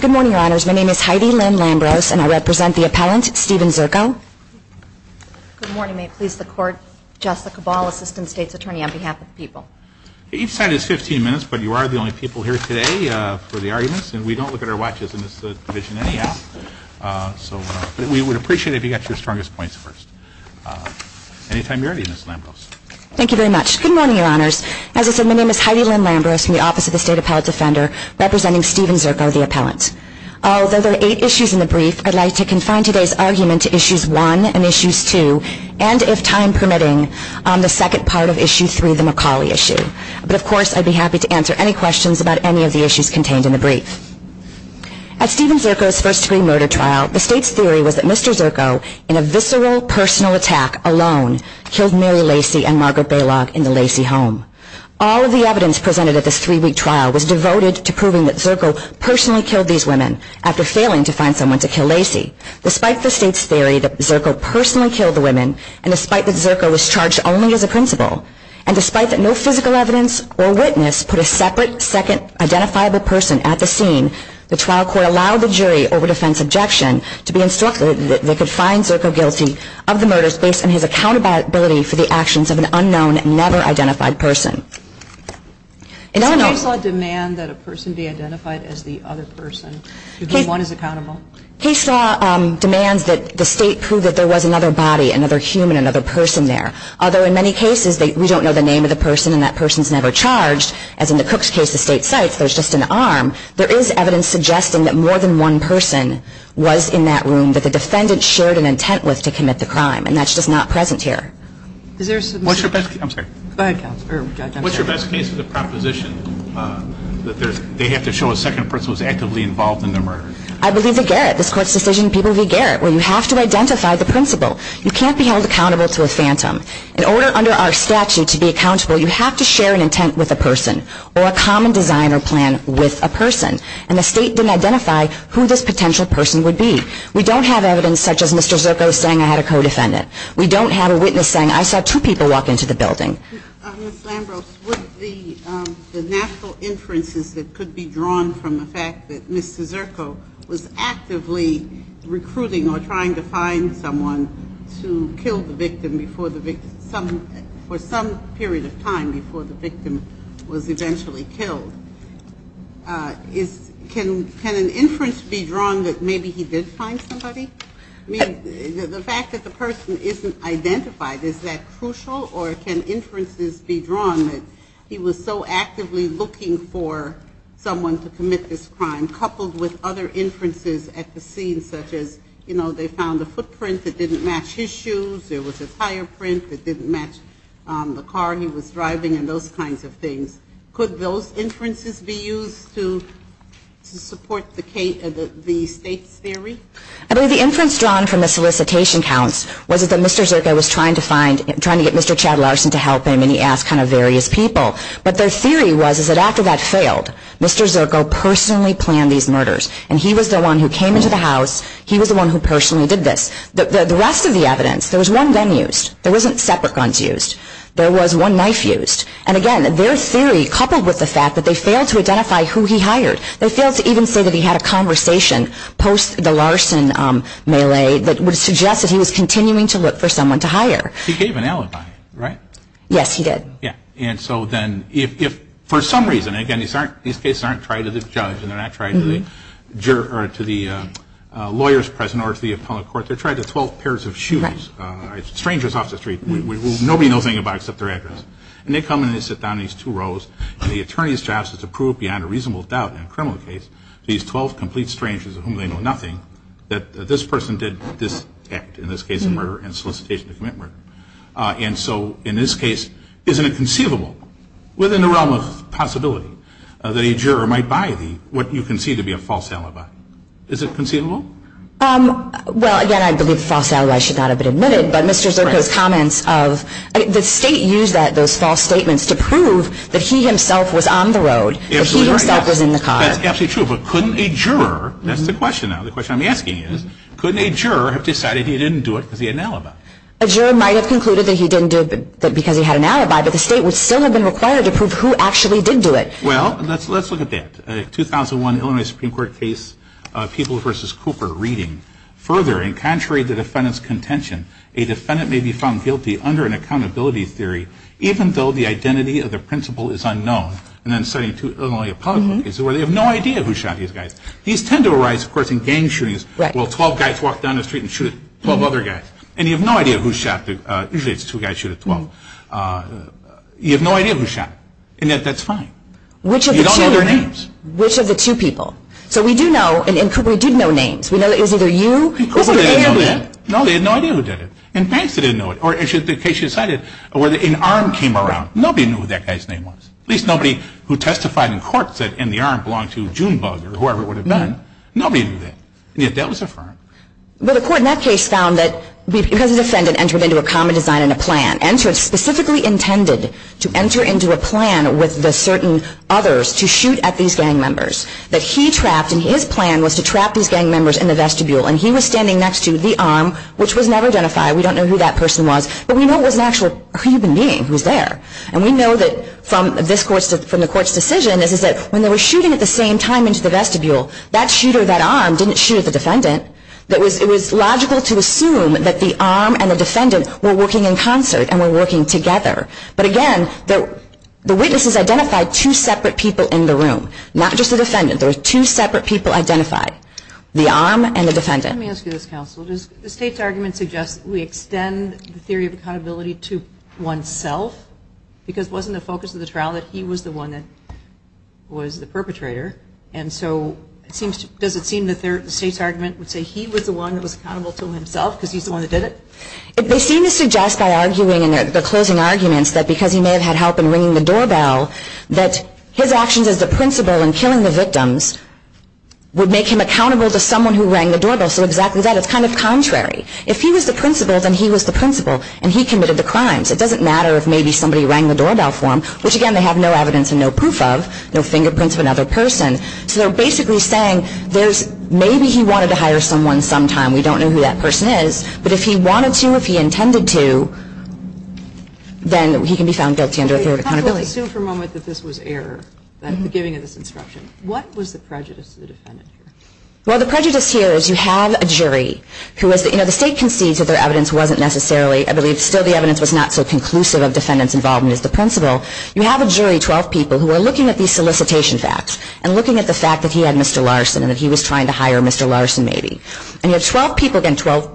Good morning, your honors. My name is Heidi Lynn Lambrose and I represent the appellant Stephen Zirko. Good morning. May it please the court, Jessica Ball, Assistant State's Attorney on behalf of the people. Each side has 15 minutes, but you are the only people here today for the arguments. I'd like to confine today's argument to Issues 1 and Issues 2 and, if time permitting, the second part of Issues 3, the McCauley issue. But, of course, I'd be happy to answer any questions about any of the issues contained in the brief. As Stephen Zirko's first-degree murder trial, the State's theory was that Mr. Zirko, in a visceral, personal attack alone, killed Mary Lacy and Margaret Bailoff in the Lacy home. All of the evidence presented at this three-week trial was devoted to proving that Zirko personally killed these women after failing to find someone to kill Lacy. Despite the State's theory that Zirko personally killed the women, and despite that Zirko was charged only as a principal, and despite that no physical evidence or witness put a separate, second, identifiable person at the scene, the trial court allowed the jury over defense objection to be insulted that they could find Zirko guilty of the murders based on his accountability for the actions of an unknown, never-identified person. In other words... Case law demands that a person be identified as the other person, to be the one who's accountable. Case law demands that the State prove that there was another body, another human, another person there, although in many cases, we don't know the name of the person, and that person's never charged, as in the Cook's case, the state's site, so it's just an arm, there is evidence suggesting that more than one person was in that room that the defendant shared an intent with to commit the crime, and that's just not present here. What's your best case... I'm sorry. Go ahead, counsel, or judge. What's your best case of the proposition that they have to show a second person was actively involved in the murder? I believe the Garrett, this court's decision, people view Garrett, where you have to identify the principal. You can't be held accountable to a phantom. In order under our statute to be accountable, you have to share an intent with a person, or a common design or plan with a person, and the state didn't identify who this potential person would be. We don't have evidence such as Mr. Zirko saying I had a co-defendant. We don't have a witness saying I saw two people walk into the building. Ms. Lambros, what's the natural inferences that could be drawn from the fact that Mr. Zirko was actively recruiting or trying to find someone to kill the victim for some period of time before the victim was eventually killed? Can an inference be drawn that maybe he did find somebody? I mean, the fact that the person isn't identified, is that crucial, or can inferences be drawn that he was so actively looking for someone to commit this crime, and coupled with other inferences at the scene, such as, you know, they found a footprint that didn't match his shoes, there was a tire print that didn't match the car he was driving, and those kinds of things. Could those inferences be used to support the state's theory? I mean, the inference drawn from the solicitation counts was that Mr. Zirko was trying to get Mr. Chad Larson to help him, and he asked kind of various people. But the theory was that after that failed, Mr. Zirko personally planned these murders, and he was the one who came into the house, he was the one who personally did this. The rest of the evidence, there was one gun used. There wasn't separate guns used. There was one knife used. And again, their theory, coupled with the fact that they failed to identify who he hired, they failed to even say that he had a conversation post the Larson melee that would suggest that he was continuing to look for someone to hire. He gave an alibi, right? Yes, he did. Yeah, and so then if for some reason, again, these cases aren't tried to the judge and they're not tried to the lawyers present or to the appellate court. They're tried to 12 pairs of shooters, strangers off the street, nobody knows anything about except their address. And they come and they sit down in these two rows, and the attorney's job is to prove beyond a reasonable doubt in a criminal case these 12 complete strangers of whom they know nothing, that this person did this act, in this case, a murder and solicitation to commit murder. And so in this case, isn't it conceivable, within the realm of possibility, that a juror might buy what you concede to be a false alibi? Is it conceivable? Well, again, I believe false alibis should not have been admitted, but Mr. Zirka's comments of the state used those false statements to prove that he himself was on the road, that he himself was in the car. That's absolutely true, but couldn't a juror, that's the question now, the question I'm asking is, couldn't a juror have decided he didn't do it via an alibi? A juror might have concluded that he didn't do it because he had an alibi, but the state would still have been required to prove who actually did do it. Well, let's look at that. A 2001 Illinois Supreme Court case, People v. Cooper, reading, further, in contrary to the defendant's contention, a defendant may be found guilty under an accountability theory, even though the identity of the principal is unknown. And I'm saying to Illinois public, where they have no idea who shot these guys. These tend to arise, of course, in gang shootings, where 12 guys walk down the street and shoot 12 other guys. And you have no idea who shot them. Usually it's two guys, usually it's 12. You have no idea who shot them. And yet that's fine. You don't know their names. Which of the two people? So we do know, and Cooper did know names. We know it was either you or Cooper. No, they had no idea who did it. And Banks didn't know it. Or the case she cited, where an arm came around. Nobody knew who that guy's name was. At least nobody who testified in court said, and the arm belonged to June Bug or whoever it would have been. Nobody knew that. And yet that was affirmed. Well, the court in that case found that the defendant entered into a common design and a plan. Entered specifically intended to enter into a plan with the certain others to shoot at these gang members that he trapped. And his plan was to trap these gang members in the vestibule. And he was standing next to the arm, which was never identified. We don't know who that person was. But we know it was an actual human being who was there. And we know that from the court's decision, that when they were shooting at the same time into the vestibule, that shooter, that arm, didn't shoot at the defendant. It was logical to assume that the arm and the defendant were working in concert and were working together. But again, the witnesses identified two separate people in the room. Not just the defendant. There were two separate people identified, the arm and the defendant. Let me ask you this, counsel. Does the state's argument suggest we extend the theory of accountability to oneself? Because wasn't the focus of the trial that he was the one that was the perpetrator? And so does it seem that the state's argument would say he was the one who was accountable to himself because he's the one that did it? They seem to suggest by arguing in their closing arguments that because he may have had help in ringing the doorbell, that his actions as a principal in killing the victims would make him accountable to someone who rang the doorbell. So exactly that. It's kind of contrary. If he was the principal, then he was the principal. And he committed the crimes. It doesn't matter if maybe somebody rang the doorbell for him, which, again, they have no evidence and no proof of, no fingerprints of another person. So they're basically saying maybe he wanted to hire someone sometime. We don't know who that person is. But if he wanted to, if he intended to, then he can be found guilty under a theory of accountability. Let's assume for a moment that this was error, that giving of this instruction. What was the prejudice to the defendant here? Well, the prejudice here is you have a jury. The state concedes that their evidence wasn't necessarily, I believe still the evidence was not so conclusive of defendants involved as the principal. You have a jury, 12 people, who are looking at these solicitation facts and looking at the fact that he had Mr. Larson and that he was trying to hire Mr. Larson maybe. And you have 12 people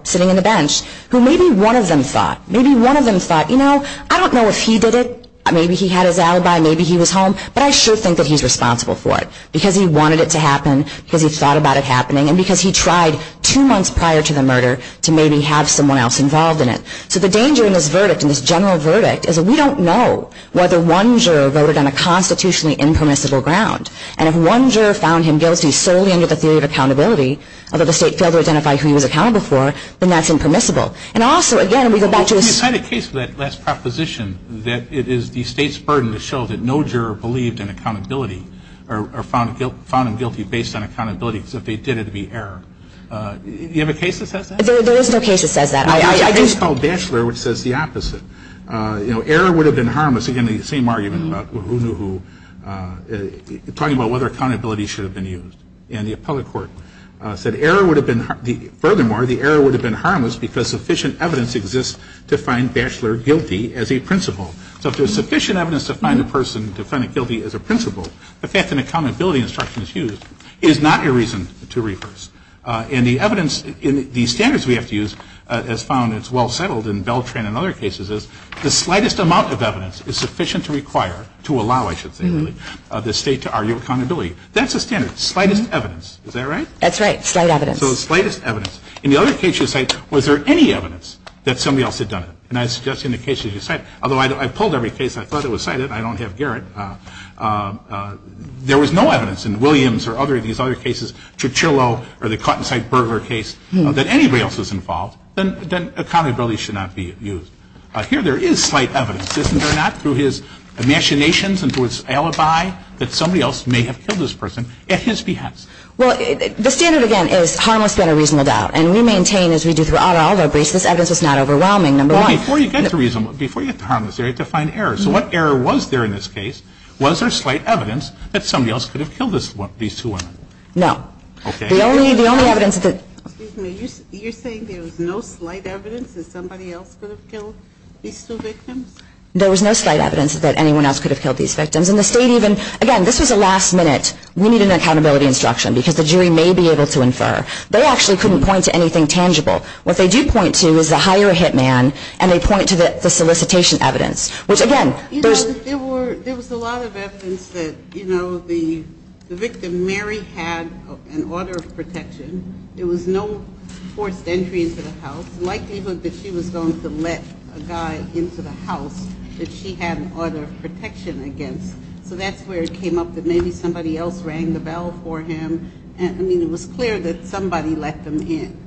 sitting on the bench who maybe one of them thought, maybe one of them thought, you know, I don't know if he did it. Maybe he had his alibi. Maybe he was home. But I sure think that he's responsible for it because he wanted it to happen, because he thought about it happening, and because he tried two months prior to the murder to maybe have someone else involved in it. So the danger in this verdict, in this general verdict, is that we don't know whether one juror voted on a constitutionally impermissible ground. And if one juror found him guilty solely under the theory of accountability, although the state failed to identify who he was accountable for, then that's impermissible. And also, again, we go back to the... I had a case for that last proposition that it is the state's burden to show that no juror believed in accountability or found him guilty based on accountability because they did it to be error. Do you have a case that says that? There is no case that says that. I have a case called Batchelor which says the opposite. You know, error would have been harmless. Again, the same argument about who knew who, talking about whether accountability should have been used. And the appellate court said error would have been... Furthermore, the error would have been harmless because sufficient evidence exists to find Batchelor guilty as a principal. So if there's sufficient evidence to find the person guilty as a principal, the fact that an accountability instruction is used is not a reason to reverse. And the evidence in the standards we have to use as found as well settled in Beltran and other cases is the slightest amount of evidence is sufficient to require, to allow, I should say, of the state to argue accountability. That's the standard, slightest evidence. Is that right? That's right, slight evidence. So the slightest evidence. In the other case you cite, was there any evidence that somebody else had done it? And I suggest in the case that you cite, although I pulled every case and I thought it was cited. I don't have Garrett. There was no evidence in Williams or other of these other cases, Cicciolo or the Cottonside burglar case, that anybody else was involved, then accountability should not be used. Here there is slight evidence, isn't there, not through his machinations and through his alibi, that somebody else may have killed this person at his behest. Well, the standard, again, is harmless and a reasonable doubt. And we maintain, as we do throughout all of our briefs, this evidence is not overwhelming. Before you get to reasonable, before you get to harmless, you have to find error. So what error was there in this case? Was there slight evidence that somebody else could have killed these two women? No. Okay. The only evidence that... Excuse me. You're saying there was no slight evidence that somebody else could have killed these two victims? There was no slight evidence that anyone else could have killed these victims. And the state even, again, this is a last minute, we need an accountability instruction, because the jury may be able to infer. They actually couldn't point to anything tangible. What they do point to is the hire a hitman, and they point to the solicitation evidence, which, again... You know, there was a lot of evidence that, you know, the victim, Mary, had an order of protection. There was no force of entry into the house. Mike included that she was going to let a guy into the house that she had an order of protection against. So that's where it came up that maybe somebody else rang the bell for him. And, I mean, it was clear that somebody let them in.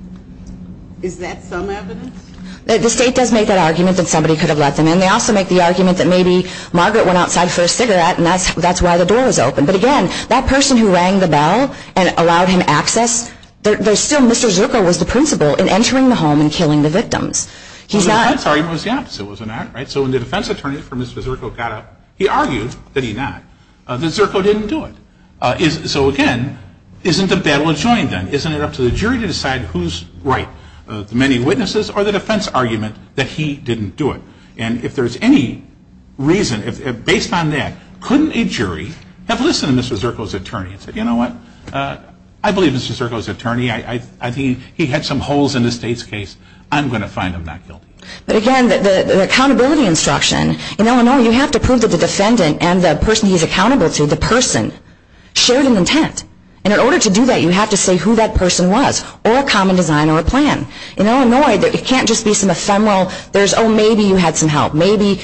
Is that some evidence? The state does make that argument that somebody could have let them in. And they also make the argument that maybe Margaret went outside for a cigarette, and that's why the door was open. But, again, that person who rang the bell and allowed him access, there's still Mr. Zirko was the principal in entering the home and killing the victims. The defense argument was down, so it was an act, right? So when the defense attorney for Mr. Zirko got up, he argued that he not. Mr. Zirko didn't do it. So, again, isn't the battle a joint gun? Isn't it up to the jury to decide who's right, the many witnesses or the defense argument that he didn't do it? And if there's any reason, based on that, couldn't a jury have listened to Mr. Zirko's attorney and said, you know what, I believe Mr. Zirko's attorney. He had some holes in his case. I'm going to find him not guilty. But, again, the accountability instruction, in Illinois you have to prove that the defendant and the person he's accountable to, the person, shared an intent. And in order to do that, you have to say who that person was, or a common design or a plan. In Illinois, it can't just be some ephemeral, oh, maybe you had some help. Maybe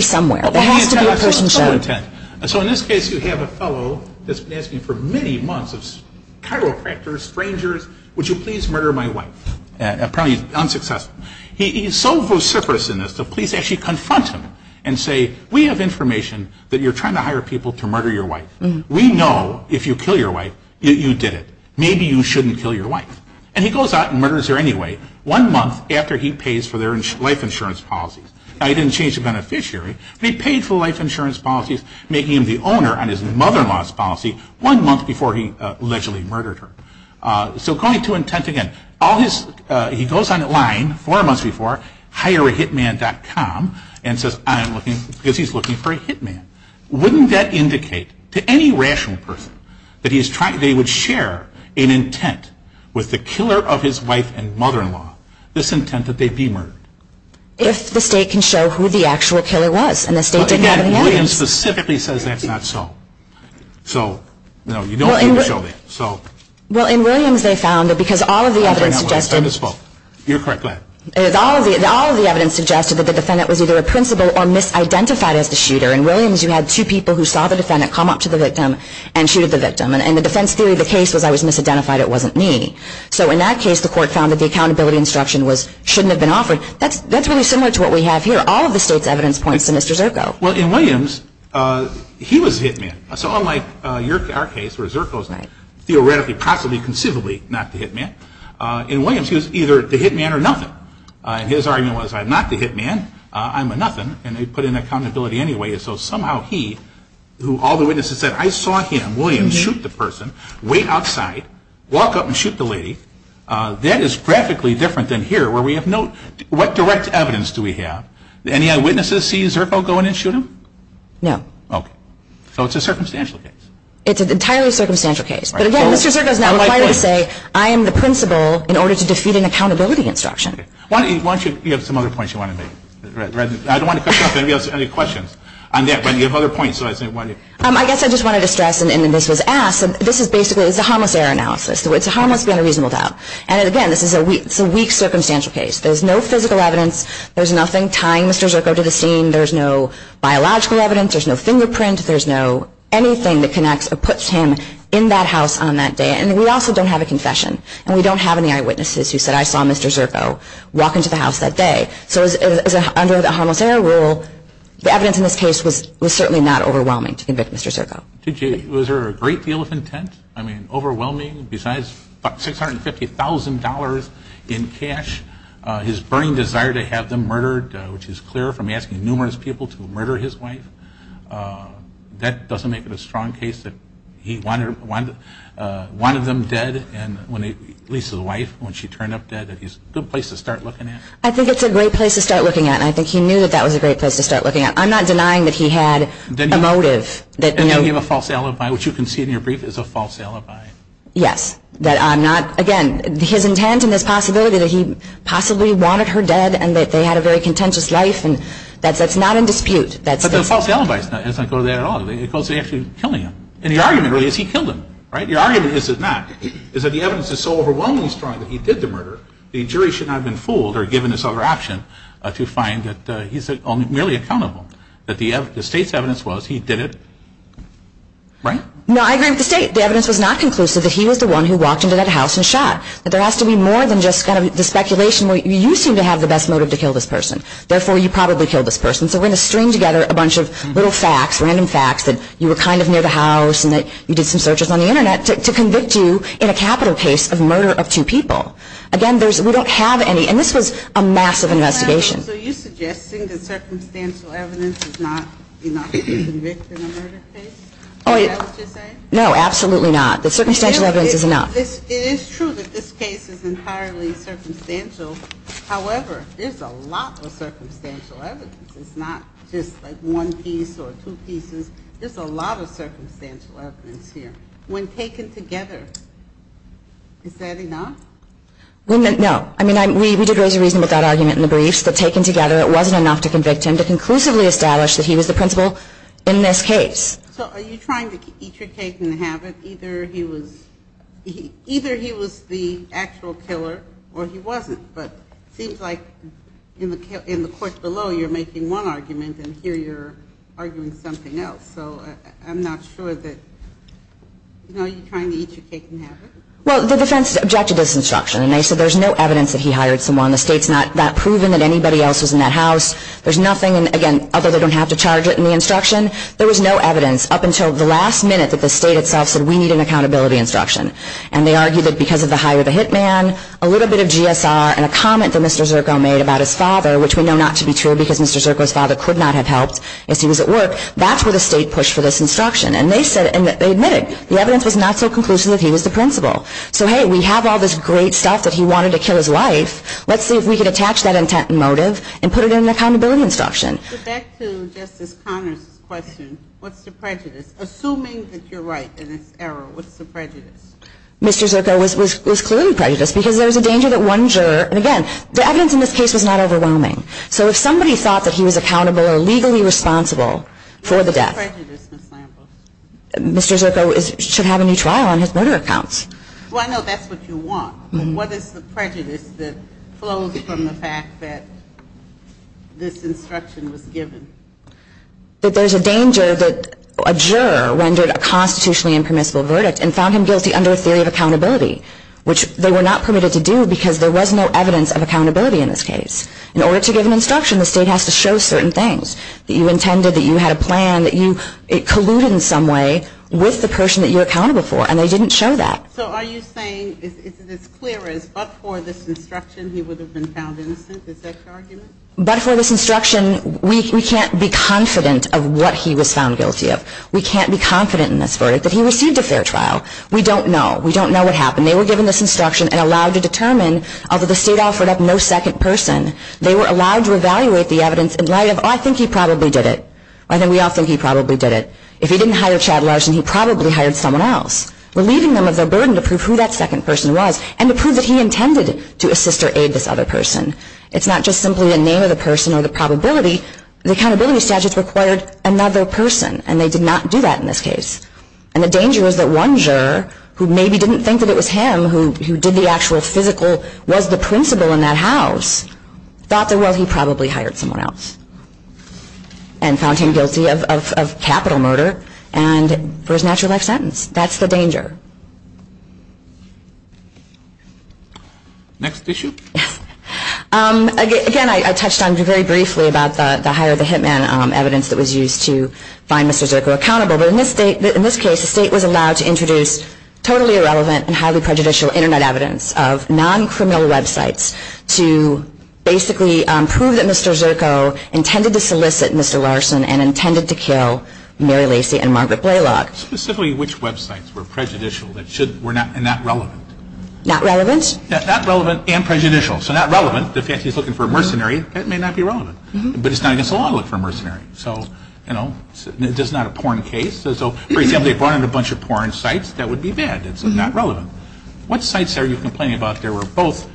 somewhere. It has to be a person's intent. So in this case, you have a fellow that's been asking for many months, chiropractors, strangers, would you please murder my wife? Probably unsuccessful. He's so vociferous in this, the police actually confront him and say, we have information that you're trying to hire people to murder your wife. We know if you kill your wife, you did it. Maybe you shouldn't kill your wife. And he goes out and murders her anyway. One month after he pays for their life insurance policies. Now, he didn't change the beneficiary. They paid for life insurance policies, making him the owner on his mother-in-law's policy one month before he allegedly murdered her. So going to intent again. He goes on the line four months before, hireahitman.com, and says, I'm looking, because he's looking for a hitman. Wouldn't that indicate, to any rational person, that they would share an intent with the killer of his wife and mother-in-law, this intent that they'd be murdered? If the state can show who the actual killer was. So again, Williams specifically says that's not so. So, no, you don't need to show that. Well, in Williams they found that because all of the evidence suggested that the defendant was either a principal or misidentified as the shooter. In Williams you had two people who saw the defendant come up to the victim and shoot at the victim. And the defense theory of the case was I was misidentified, it wasn't me. So in that case the court found that the accountability instruction was shouldn't have been offered. That's really similar to what we have here. All of the state's evidence points to Mr. Zirko. Well, in Williams, he was the hitman. So unlike our case where Zirko's theoretically, possibly, conceivably not the hitman, in Williams he was either the hitman or nothing. And his argument was I'm not the hitman, I'm a nothing, and they put in accountability anyway. So somehow he, who all the witnesses said, I saw him, Williams, shoot the person, wait outside, walk up and shoot the lady. That is graphically different than here where we have no, what direct evidence do we have? Any eyewitnesses see Zirko go in and shoot him? No. Okay. So it's a circumstantial case. It's an entirely circumstantial case. But again, Mr. Zirko is not required to say I am the principal in order to defeat an accountability instruction. Why don't you have some other points you want to make? I don't want to cut you off if anybody has any questions. I guess I just wanted to stress, and this was asked, this is basically, it's a harmless error analysis. It's a harmless and reasonable doubt. And again, this is a weak circumstantial case. There's no physical evidence. There's nothing tying Mr. Zirko to the scene. There's no biological evidence. There's no fingerprint. There's no anything that connects or puts him in that house on that day. And we also don't have a confession. And we don't have any eyewitnesses who said I saw Mr. Zirko walk into the house that day. So under the harmless error rule, the evidence in this case was certainly not overwhelming to convict Mr. Zirko. Was there a great deal of intent? I mean, overwhelming, besides $650,000 in cash, his burning desire to have them murdered, which is clear from asking numerous people to murder his wife. That doesn't make it a strong case that he wanted them dead, at least his wife, when she turned up dead. It's a good place to start looking at. I think it's a great place to start looking at. I think he knew that that was a great place to start looking at. I'm not denying that he had a motive. And that he had a false alibi, which you can see in your brief is a false alibi. Yes. Again, his intent and his possibility that he possibly wanted her dead and that they had a very contentious life, that's not in dispute. But the false alibi isn't there at all. It goes to actually killing him. And the argument really is he killed him. The argument that this is not is that the evidence is so overwhelmingly strong that he did the murder, the jury should not have been fooled or given this other option to find that he's merely accountable. But the state's evidence was he did it. Right? No, I agree with the state. The evidence was not conclusive that he was the one who walked into that house and shot. But there has to be more than just the speculation where you seem to have the best motive to kill this person, therefore you probably killed this person. So we're going to string together a bunch of little facts, random facts, that you were kind of near the house and that you did some searches on the Internet to convict you in a capital case of murder of two people. Again, we don't have any, and this was a massive investigation. So are you suggesting that circumstantial evidence does not convict in a murder case? No, absolutely not. The circumstantial evidence does not. It is true that this case is entirely circumstantial. However, there's a lot of circumstantial evidence. It's not just like one piece or two pieces. There's a lot of circumstantial evidence here. When taken together, is that enough? No. I mean, we did raise a reason for that argument in the brief. But taken together, it wasn't enough to convict him. So are you trying to eat your cake and have it? Either he was the actual killer or he wasn't. But it seems like in the court below you're making one argument, and here you're arguing something else. So I'm not sure that you're trying to eat your cake and have it. Well, the defense objected to this instruction, and they said there's no evidence that he hired someone. The state's not proven that anybody else was in that house. There's nothing, again, other than they don't have to charge it in the instruction. There was no evidence up until the last minute that the state itself said we need an accountability instruction. And they argued that because of the hire the hit man, a little bit of GSR, and a comment that Mr. Zirko made about his father, which we know not to be true because Mr. Zirko's father could not have helped if he was at work, that's where the state pushed for this instruction. And they admitted the evidence was not so conclusive that he was the principal. So, hey, we have all this great stuff that he wanted to kill his life. Let's see if we can attach that intent and motive and put it in the accountability instruction. But back to Justice Conner's question, what's the prejudice? Assuming that you're right in this error, what's the prejudice? Mr. Zirko was clearly prejudiced because there was a danger that one juror, and again, the evidence in this case was not overwhelming. So if somebody thought that he was accountable or legally responsible for the death. What's the prejudice, Ms. Lambert? Mr. Zirko should have a new trial on his murder accounts. Well, I know that's what you want. What is the prejudice that flows from the fact that this instruction was given? That there's a danger that a juror rendered a constitutionally impermissible verdict and found him guilty under a theory of accountability, which they were not permitted to do because there was no evidence of accountability in this case. In order to give an instruction, the state has to show certain things. That you intended, that you had a plan, that you colluded in some way with the person that you were accountable for, and they didn't show that. So are you saying it's as clear as, but for this instruction, he would have been found innocent? Is that your argument? But for this instruction, we can't be confident of what he was found guilty of. We can't be confident in this verdict that he received a fair trial. We don't know. We don't know what happened. They were given this instruction and allowed to determine, although the state offered up no second person, they were allowed to evaluate the evidence in light of, oh, I think he probably did it. I think we all think he probably did it. If he didn't hire Chad Larson, he probably hired someone else. Relieving them of their burden to prove who that second person was and to prove that he intended to assist or aid this other person. It's not just simply the name of the person or the probability. The accountability statutes required another person, and they did not do that in this case. And the danger is that one juror, who maybe didn't think that it was him, who did the actual physical, was the principal in that house, thought that, well, he probably hired someone else and found him guilty of capital murder and for his natural life sentence. That's the danger. Next issue. Again, I touched on very briefly about the hire the hitman evidence that was used to find Mr. Zirko accountable. But in this case, the state was allowed to introduce totally irrelevant and highly prejudicial Internet evidence of non-criminal websites to basically prove that Mr. Zirko intended to solicit Mr. Larson and intended to kill Mary Lacy and Margaret Blaylock. Specifically, which websites were prejudicial and not relevant? Not relevant. Not relevant and prejudicial. So, not relevant, if he's looking for a mercenary, that may not be relevant. But it's not against the law to look for a mercenary. So, you know, this is not a porn case. So, for example, if they brought in a bunch of porn sites, that would be bad. It's not relevant. What sites are you complaining about that were both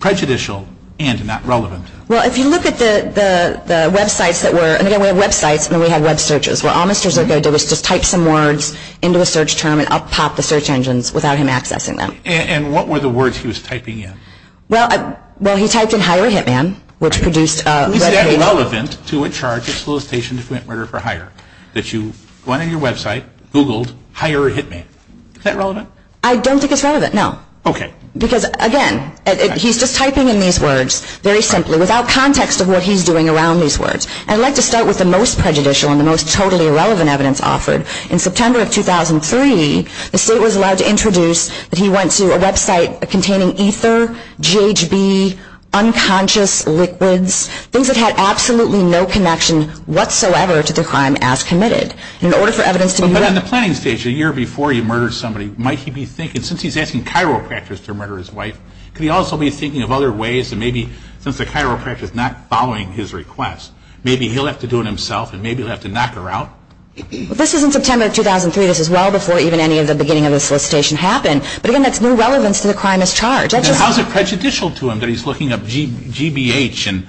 prejudicial and not relevant? Well, if you look at the websites that were, and again, we have websites and then we have web searches, where all Mr. Zirko did was just type some words into a search term and up top the search engines without him accessing them. And what were the words he was typing in? Well, he typed in hire a hitman, which produced a web page. Is that relevant to a charge, a solicitation to commit murder for hire, that you went on your website, Googled hire a hitman? Is that relevant? I don't think it's relevant, no. Okay. Because, again, he's just typing in these words very simply without context of what he's doing around these words. I'd like to start with the most prejudicial and the most totally irrelevant evidence offered. In September of 2003, the state was allowed to introduce that he went to a website containing ether, GHB, unconscious liquids, things that had absolutely no connection whatsoever to the crime as committed. In order for evidence to be made. But on the planning stage, a year before he murdered somebody, might he be thinking, since he's asking chiropractors to murder his wife, could he also be thinking of other ways to maybe, since the chiropractor is not following his request, maybe he'll have to do it himself and maybe he'll have to knock her out? This was in September of 2003. This was well before even any of the beginning of the solicitation happened. But, again, that's new relevance to the crime as charged. Then how is it prejudicial to him that he's looking up GBH and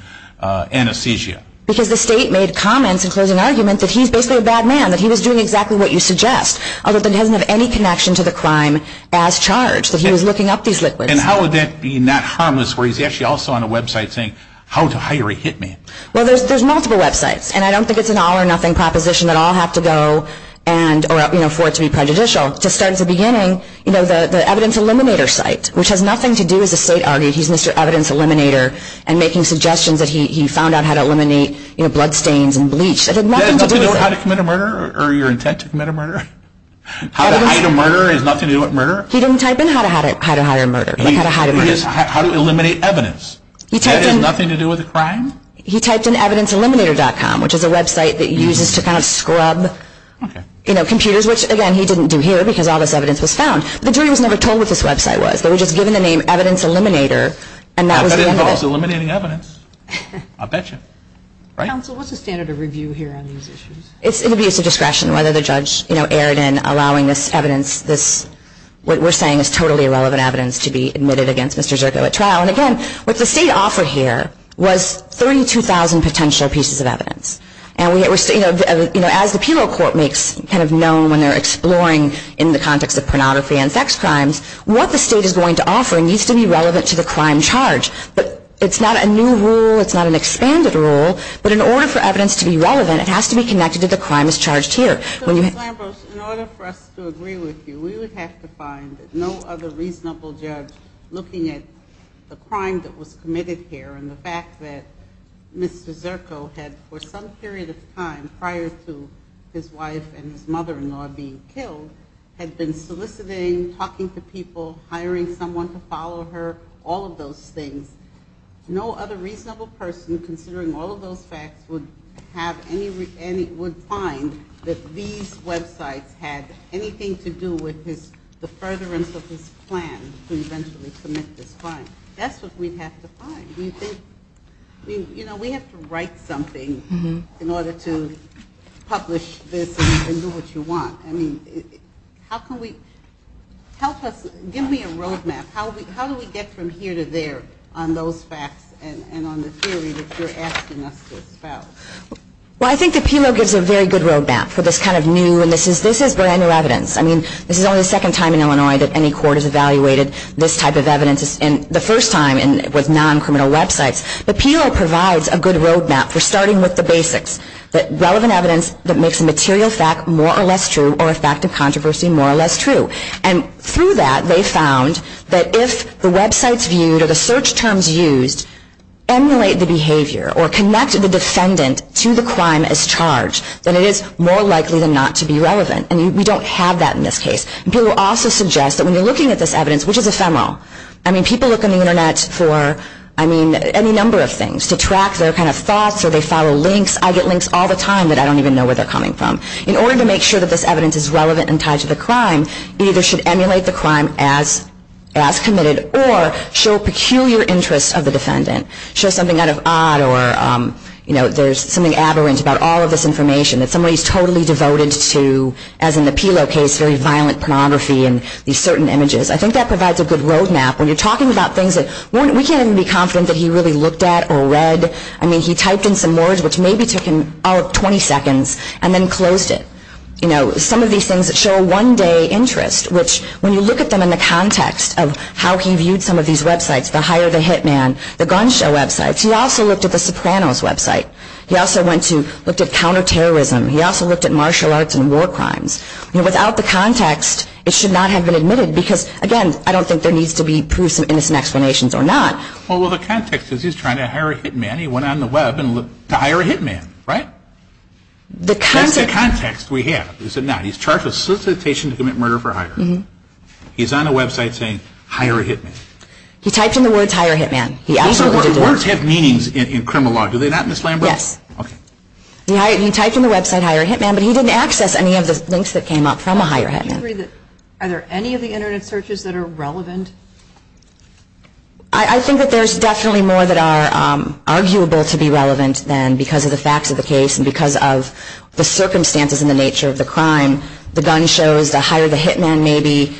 anesthesia? Because the state made comments in closing arguments that he's basically a bad man, that he was doing exactly what you suggest, although he doesn't have any connection to the crime as charged. That he was looking up these liquids. And how would that be not harmless where he's actually also on a website saying, how did a high rate hit me? Well, there's multiple websites. And I don't think it's an all or nothing proposition that I'll have to go and, or for it to be prejudicial. To start at the beginning, you know, the evidence eliminator site, which has nothing to do with the state argument, he's Mr. Evidence Eliminator and making suggestions that he found out how to eliminate, you know, blood stains and bleach. That has nothing to do with how to commit a murder or your intent to commit a murder? How to hide a murder has nothing to do with murder? He didn't type in how to hide a murder. How to eliminate evidence. That has nothing to do with the crime? He typed in evidenceeliminator.com, which is a website that uses to kind of scrub, you know, computers, which again he didn't do here because all this evidence was found. The jury was never told what this website was. They were just given the name Evidence Eliminator. Evidence Eliminator is eliminating evidence. I bet you. Counsel, what's the standard of review here on these issues? It would be at the discretion of whether the judge, you know, what we're saying is totally irrelevant evidence to be admitted against Mr. Zerko at trial. And, again, what the state offered here was 32,000 potential pieces of evidence. And, you know, as the appeal court makes kind of known when they're exploring in the context of pornography and sex crimes, what the state is going to offer needs to be relevant to the crime charged. But it's not a new rule. It's not an expanded rule. But in order for evidence to be relevant, it has to be connected to the crime that's charged here. In order for us to agree with you, we would have to find no other reasonable judge looking at the crime that was committed here and the fact that Mr. Zerko had, for some period of time prior to his wife and mother-in-law being killed, had been soliciting, talking to people, hiring someone to follow her, all of those things. No other reasonable person, considering all of those facts, would find that these websites had anything to do with the furtherance of his plan to eventually commit this crime. That's what we'd have to find. You know, we have to write something in order to publish this and do what you want. I mean, how can we, give me a roadmap. How do we get from here to there on those facts and on the theory that you're asking us about? Well, I think the PEO gives a very good roadmap for this kind of new emissions. This is brand new evidence. I mean, this is only the second time in Illinois that any court has evaluated this type of evidence. And the first time was non-criminal websites. The PEO provides a good roadmap for starting with the basics, the relevant evidence that makes a material fact more or less true or a fact of controversy more or less true. And through that, they found that if the websites viewed or the search terms used emulate the behavior or connect the defendant to the crime as charged, then it is more likely than not to be relevant. And we don't have that in this case. They will also suggest that when you're looking at this evidence, which is ephemeral, I mean, people look on the Internet for, I mean, any number of things, to track their kind of thoughts or they follow links. I get links all the time that I don't even know where they're coming from. In order to make sure that this evidence is relevant and tied to the crime, either should emulate the crime as committed or show peculiar interests of the defendant. Show something out of odd or, you know, there's something aberrant about all of this information, that somebody is totally devoted to, as in the PELO case, very violent pornography and these certain images. I think that provides a good roadmap. When you're talking about things that we can't even be confident that he really looked at or read. I mean, he typed in some words which maybe took him, oh, 20 seconds and then closed it. You know, some of these things that show one-day interests, which when you look at them in the context of how he viewed some of these websites, the Hire the Hitman, the gun show websites, he also looked at the Sopranos website. He also went to look at counterterrorism. He also looked at martial arts and war crimes. Without the context, it should not have been admitted because, again, I don't think there needs to be proofs and explanations or not. Well, the context is he's trying to hire a hitman. He went on the web and looked to hire a hitman, right? That's the context we have, is it not? He's charged with solicitation to commit murder for hire. He's on the website saying, hire a hitman. He typed in the words, hire a hitman. Words have meanings in criminal law. Do they not, Ms. Lambert? Yes. He typed in the website, hire a hitman, but he didn't access any of the links that came up from a hire hitman. Are there any of the Internet searches that are relevant? I think that there's definitely more that are arguable to be relevant than because of the facts of the case and because of the circumstances and the nature of the crime. The gun shows the hire the hitman maybe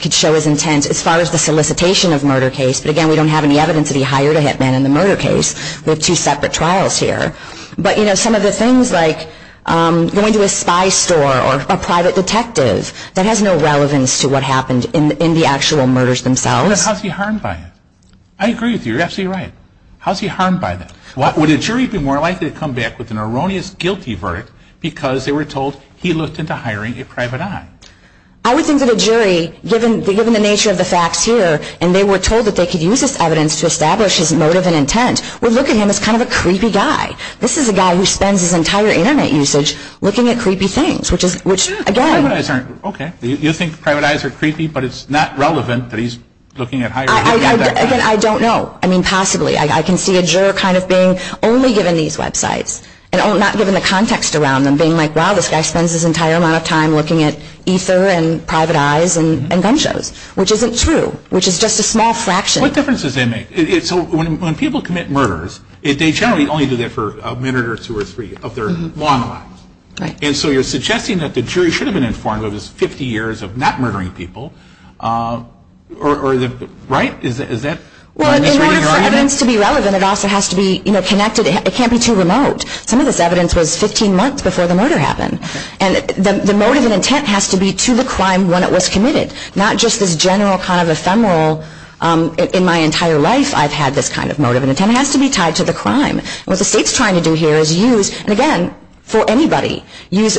could show his intent as far as the solicitation of murder case. But, again, we don't have any evidence that he hired a hitman in the murder case. We have two separate trials here. But, you know, some of the things like going to a spy store or a private detective, that has no relevance to what happened in the actual murders themselves. But how's he harmed by it? I agree with you. You're absolutely right. How's he harmed by this? Would a jury be more likely to come back with an erroneous guilty verdict because they were told he looked into hiring a private eye? I would think that a jury, given the nature of the facts here, and they were told that they could use this evidence to establish his motive and intent, would look at him as kind of a creepy guy. This is a guy who spends his entire Internet usage looking at creepy things, which, again, private eyes aren't creepy. Okay. You think private eyes are creepy, but it's not relevant that he's looking at hiring a private eye. I don't know. I mean, possibly. I can see a juror kind of being only given these websites and not given the context around them, being like, wow, this guy spends his entire amount of time looking at Ether and private eyes and gun shows, which isn't true, which is just a small fraction. What difference does that make? When people commit murders, they generally only do that for a minute or two or three of their long lives. And so you're suggesting that the jury should have been informed of his 50 years of not murdering people, right? Well, it has to be relevant. It also has to be connected. It can't be too remote. Some of this evidence was 15 months before the murder happened. And the motive and intent has to be to the crime when it was committed, not just this general kind of ephemeral, in my entire life I've had this kind of motive and intent. It has to be tied to the crime. What the state's trying to do here is use, again, for anybody, use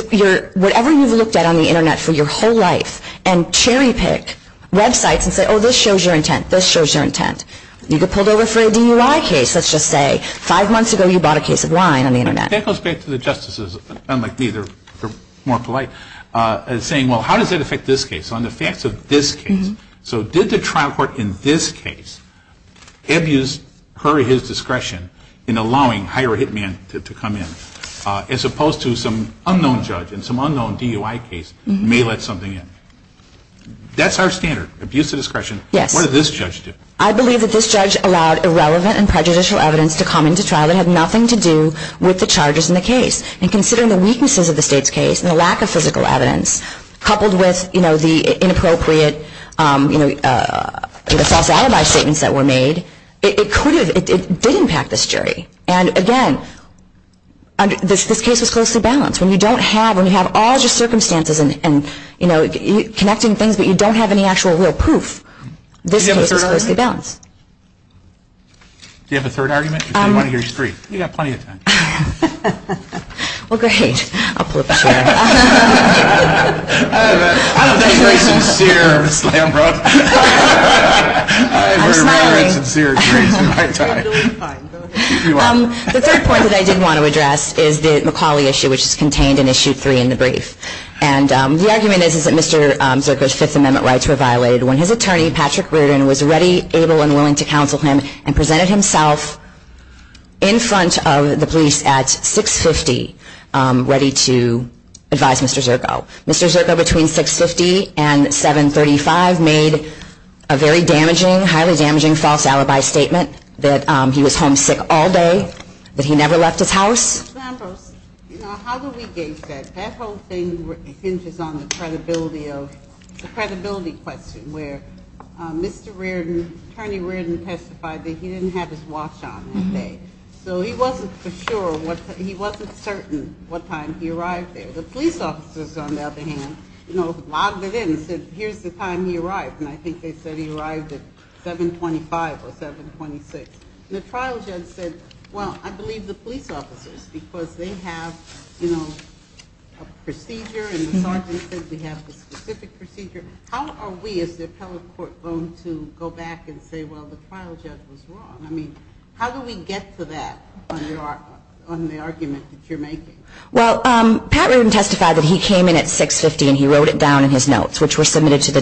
whatever you've looked at on the Internet for your whole life and cherry pick websites and say, oh, this shows your intent, this shows your intent. You get pulled over for a DUI case, let's just say, five months ago you bought a case of wine on the Internet. That goes back to the justices, unlike me, they're more polite, and saying, well, how does that affect this case? On the facts of this case. So did the trial court, in this case, abuse her or his discretion in allowing hire a hitman to come in, as opposed to some unknown judge in some unknown DUI case may let something in? That's our standard, abuse of discretion. What did this judge do? I believe that this judge allowed irrelevant and prejudicial evidence to come into trial that had nothing to do with the charges in the case. And considering the weaknesses of the state's case and the lack of physical evidence, coupled with, you know, the inappropriate, you know, the false alibi statements that were made, it could have, it did impact this jury. And, again, this case is closely balanced. When you don't have, when you have all just circumstances and, you know, connecting things but you don't have any actual real proof, this case is closely balanced. Do you have a third argument? I want to hear you scream. We have plenty of time. Well, great. The first point that I did want to address is the McAuley issue, which is contained in Issue 3 in the brief. And the argument is that Mr. Zucker's Fifth Amendment rights were violated when his attorney, Patrick Rudin, was ready, able, and willing to counsel him and presented himself in front of the police at 6.50 ready to advise Mr. Zirko. Mr. Zirko, between 6.50 and 7.35, made a very damaging, highly damaging, false alibi statement that he was home sick all day, that he never left his house. Example. You know, how do we gauge that? That whole thing hinges on the credibility of, the credibility question, where Mr. Rudin, attorney Rudin testified that he didn't have his watch on that day. So he wasn't for sure, he wasn't certain what time he arrived there. The police officers, on the other hand, you know, logged it in and said, here's the time he arrived, and I think they said he arrived at 7.25 or 7.26. The trial judge said, well, I believe the police officers because they have, you know, a procedure and the sergeant said they have a specific procedure. How are we as the appellate court going to go back and say, well, the trial judge was wrong? I mean, how do we get to that on the argument that you're making? Well, Pat Rudin testified that he came in at 6.50 and he wrote it down in his notes, which were submitted to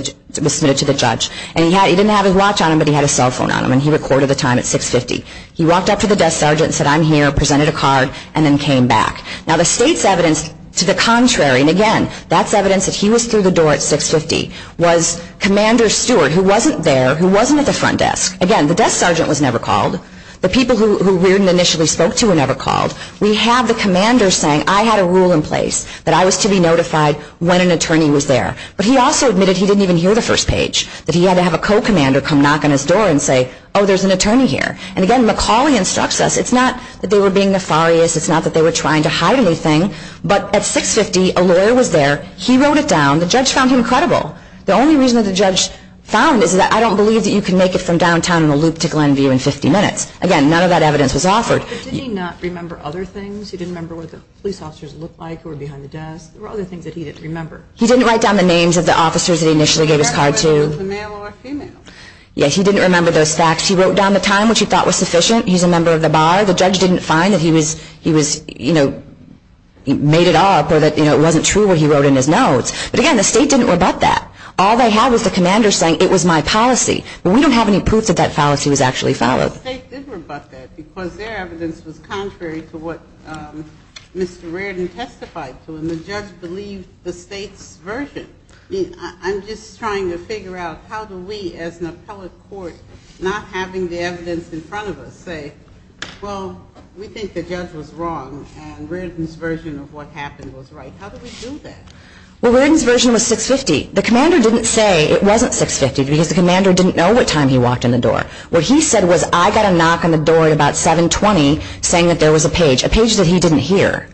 the judge. And he didn't have his watch on him, but he had his cell phone on him, and he recorded the time at 6.50. He walked up to the desk sergeant and said, I'm here, presented a card, and then came back. Now, the state's evidence to the contrary, and, again, that's evidence that he was through the door at 6.50, was Commander Stewart, who wasn't there, who wasn't at the front desk. Again, the desk sergeant was never called. The people who Rudin initially spoke to were never called. We have the commander saying, I had a rule in place that I was to be notified when an attorney was there. But he also admitted he didn't even hear the first page, that he had to have a co-commander come knock on his door and say, oh, there's an attorney here. And, again, McCauley instructs us, it's not that they were being nefarious, it's not that they were trying to hide anything. But at 6.50, a lawyer was there. He wrote it down. The judge found him credible. The only reason that the judge found is that I don't believe that you can make it from downtown in a loop to Glenview in 50 minutes. Again, none of that evidence was offered. But did he not remember other things? He didn't remember what the police officers looked like who were behind the desk? What were other things that he didn't remember? He didn't write down the names of the officers that he initially gave his card to. He didn't remember whether it was a male or a female. Yeah, he didn't remember those facts. He wrote down the time, which he thought was sufficient. He's a member of the bar. That's why the judge didn't find that he made it up or that it wasn't true what he wrote in his notes. But, again, the state didn't rebut that. All they have is the commander saying, it was my policy. But we don't have any proof that that policy was actually followed. The state did rebut that because their evidence was contrary to what Mr. Reardon testified to, and the judge believes the state's version. I'm just trying to figure out how do we, as an appellate court, not having the evidence in front of us, say, Well, we think the judge was wrong, and Reardon's version of what happened was right. How did he do that? Well, Reardon's version was 6.50. The commander didn't say it wasn't 6.50 because the commander didn't know what time he walked in the door. What he said was, I got a knock on the door at about 7.20 saying that there was a page, a page that he didn't hear.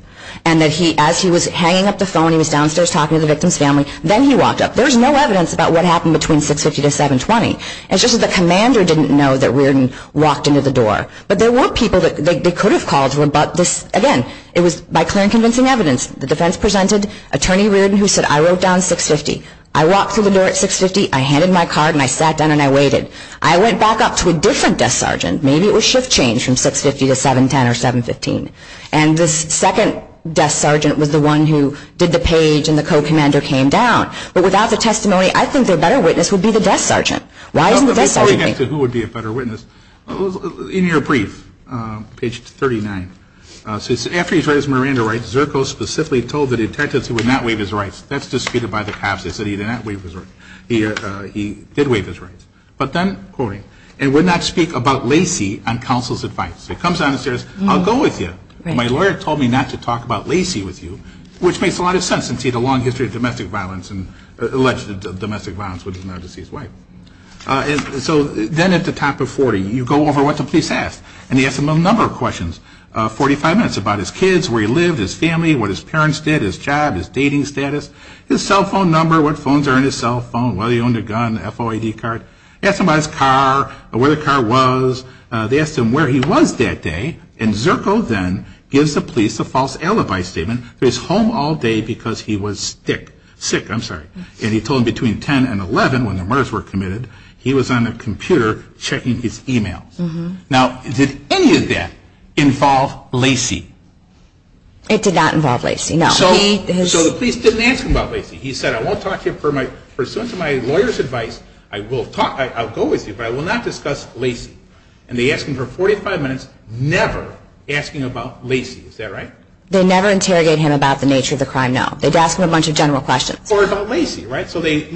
And as he was hanging up the phone, he was downstairs talking to the victim's family. Then he walked up. There's no evidence about what happened between 6.50 to 7.20. It's just that the commander didn't know that Reardon walked into the door. But there were people that they could have called to rebut this. Again, it was by clear and convincing evidence. The defense presented Attorney Reardon who said, I wrote down 6.50. I walked through the door at 6.50. I handed my card, and I sat down, and I waited. I went back up to a different desk sergeant. Maybe it was shift change from 6.50 to 7.10 or 7.15. And the second desk sergeant was the one who did the page, and the co-commander came down. But without the testimony, I think the better witness would be the desk sergeant. Why didn't the desk sergeant do it? Who would be a better witness? In your brief, page 39, after he's read his Miranda rights, Zerko specifically told the detectives he would not waive his rights. That's disputed by the cops. They said he did not waive his rights. He did waive his rights. But then, and we're not speaking about Lacey on counsel's advice. He comes down and says, I'll go with you. My lawyer told me not to talk about Lacey with you, which makes a lot of sense. He has a long history of domestic violence and alleged domestic violence with his married and deceased wife. And so then at the top of 40, you go over what the police asked. And they asked him a number of questions, 45 minutes about his kids, where he lived, his family, what his parents did, his job, his dating status, his cell phone number, what phones are in his cell phone, whether he owned a gun, FOID card. They asked him about his car, where the car was. They asked him where he was that day. And Zirko then gives the police a false alibi statement that he's home all day because he was sick. And he told them between 10 and 11, when the murders were committed, he was on the computer checking his e-mail. Now, did any of that involve Lacey? It did not involve Lacey, no. So the police didn't ask him about Lacey. He said, I won't talk to you for my lawyer's advice. I'll go with you, but I will not discuss Lacey. And they asked him for 45 minutes, never asking about Lacey. Is that right? They never interrogated him about the nature of the crime, no. They asked him a bunch of general questions. Or about Lacey, right? So they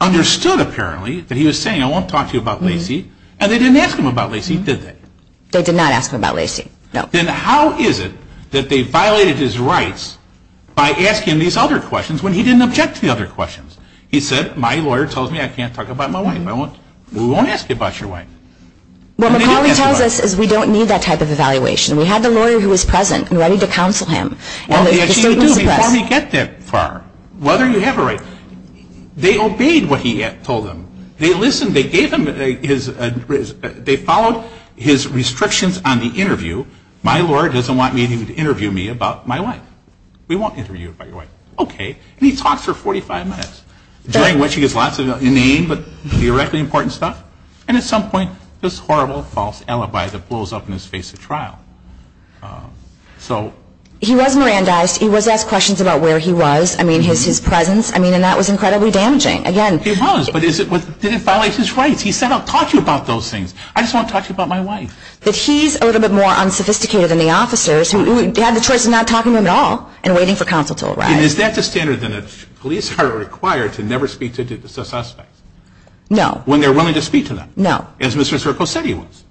understood, apparently, that he was saying, I won't talk to you about Lacey, and they didn't ask him about Lacey, did they? They did not ask him about Lacey, no. Then how is it that they violated his rights by asking these other questions when he didn't object to the other questions? He said, my lawyer tells me I can't talk about my wife. We won't ask you about your wife. Well, the problem with all of this is we don't need that type of evaluation. We have the lawyer who is present and ready to counsel him. Well, yes, you do. Before we get that far, what are your rights? They obeyed what he told them. They listened. They gave him his address. They followed his restrictions on the interview. My lawyer doesn't want anyone to interview me about my wife. We won't interview you about your wife. Okay. And he talks for 45 minutes, jangling lots of inane but theoretically important stuff, and at some point this horrible false alibi that blows up in his face at trial. He was Mirandized. He was asked questions about where he was, his presence, and that was incredibly damaging. He was, but didn't violate his rights. He said, I'll talk to you about those things. I just want to talk to you about my wife. But he's a little bit more unsophisticated than the officers who had the choice of not talking to him at all and waiting for counsel to arrive. And is that the standard that police are required to never speak to a suspect? No. When they're willing to speak to them? No. As Mr. Zirko said he was.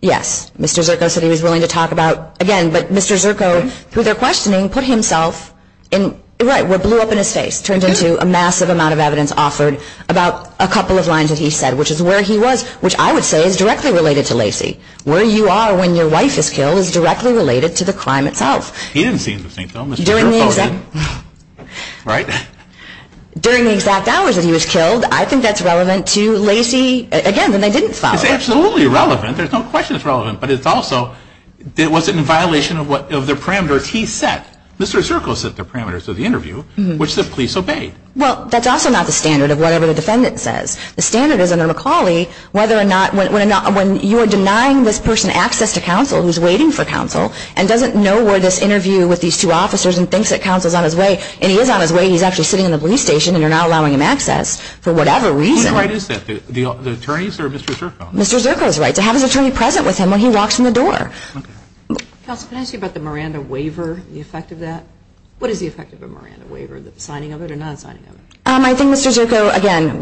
Yes. Mr. Zirko said he was willing to talk about, again, but Mr. Zirko, who they're questioning, put himself in, right, what blew up in his face, turns into a massive amount of evidence offered about a couple of lines that he said, which is where he was, which I would say is directly related to Lacey. Where you are when your wife is killed is directly related to the crime itself. He didn't see in this detail. During the exact hours when he was killed, I think that's relevant to Lacey, again, and they didn't follow it. It's absolutely relevant. There's no question it's relevant. But it's also, was it in violation of their parameter he set? Mr. Zirko set the parameters of the interview, which the police obey. Well, that's also not the standard of whatever the defendant says. The standard is in the McCauley whether or not, when you're denying this person access to counsel, who's waiting for counsel, and doesn't know where this interview with these two officers and thinks that counsel's on his way, and he is on his way, he's actually sitting in the police station, and you're not allowing him access for whatever reason. What is that? The attorneys or Mr. Zirko? Mr. Zirko's right. They have an attorney present with him when he walks in the door. Can I ask you about the Miranda waiver, the effect of that? What is the effect of a Miranda waiver, the signing of it or not signing of it? I think Mr. Zirko, again,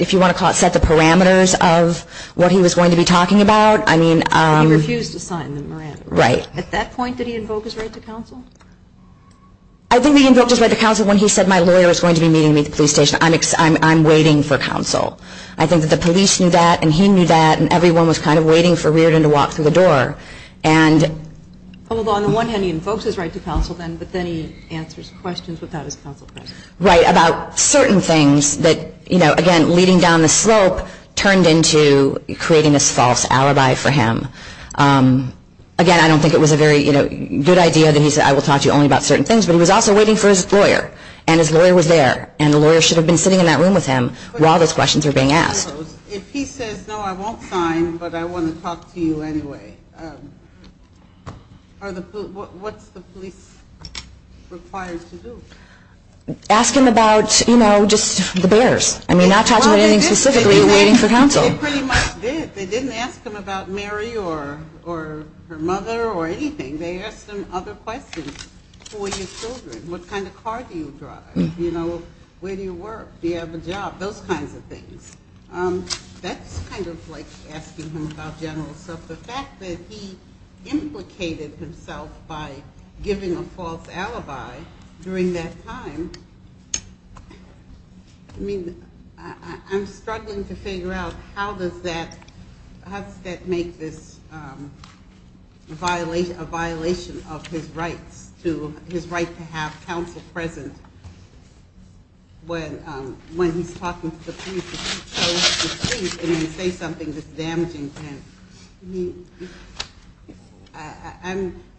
if you want to call it, set the parameters of what he was going to be talking about. He refused to sign the Miranda waiver. At that point, did he invoke his right to counsel? I think he invoked his right to counsel when he said, my lawyer is going to be meeting me at the police station. I'm waiting for counsel. I think that the police knew that, and he knew that, and everyone was kind of waiting for Reardon to walk through the door. Well, on the one hand, he invokes his right to counsel then, but then he answers questions without his counsel present. Right, about certain things that, again, leading down the slope, turned into creating this false alibi for him. Again, I don't think it was a very good idea that he said, I will talk to you only about certain things, but he was also waiting for his lawyer, and his lawyer was there, and the lawyer should have been sitting in that room with him while those questions were being asked. If he says, no, I won't sign, but I want to talk to you anyway, what's the police required to do? Ask him about, you know, just the bears. And we're not talking specifically about waiting for counsel. They pretty much did. They didn't ask him about Mary or her mother or anything. They asked him other questions. Who are your children? What kind of car do you drive? You know, where do you work? Do you have a job? Those kinds of things. That's kind of like asking him about general justice. The fact that he implicated himself by giving a false alibi during that time, I mean, I'm struggling to figure out how does that make this a violation of his right to have counsel present when he's talking to the police and he shows his teeth and then he says something that's damaging. I mean,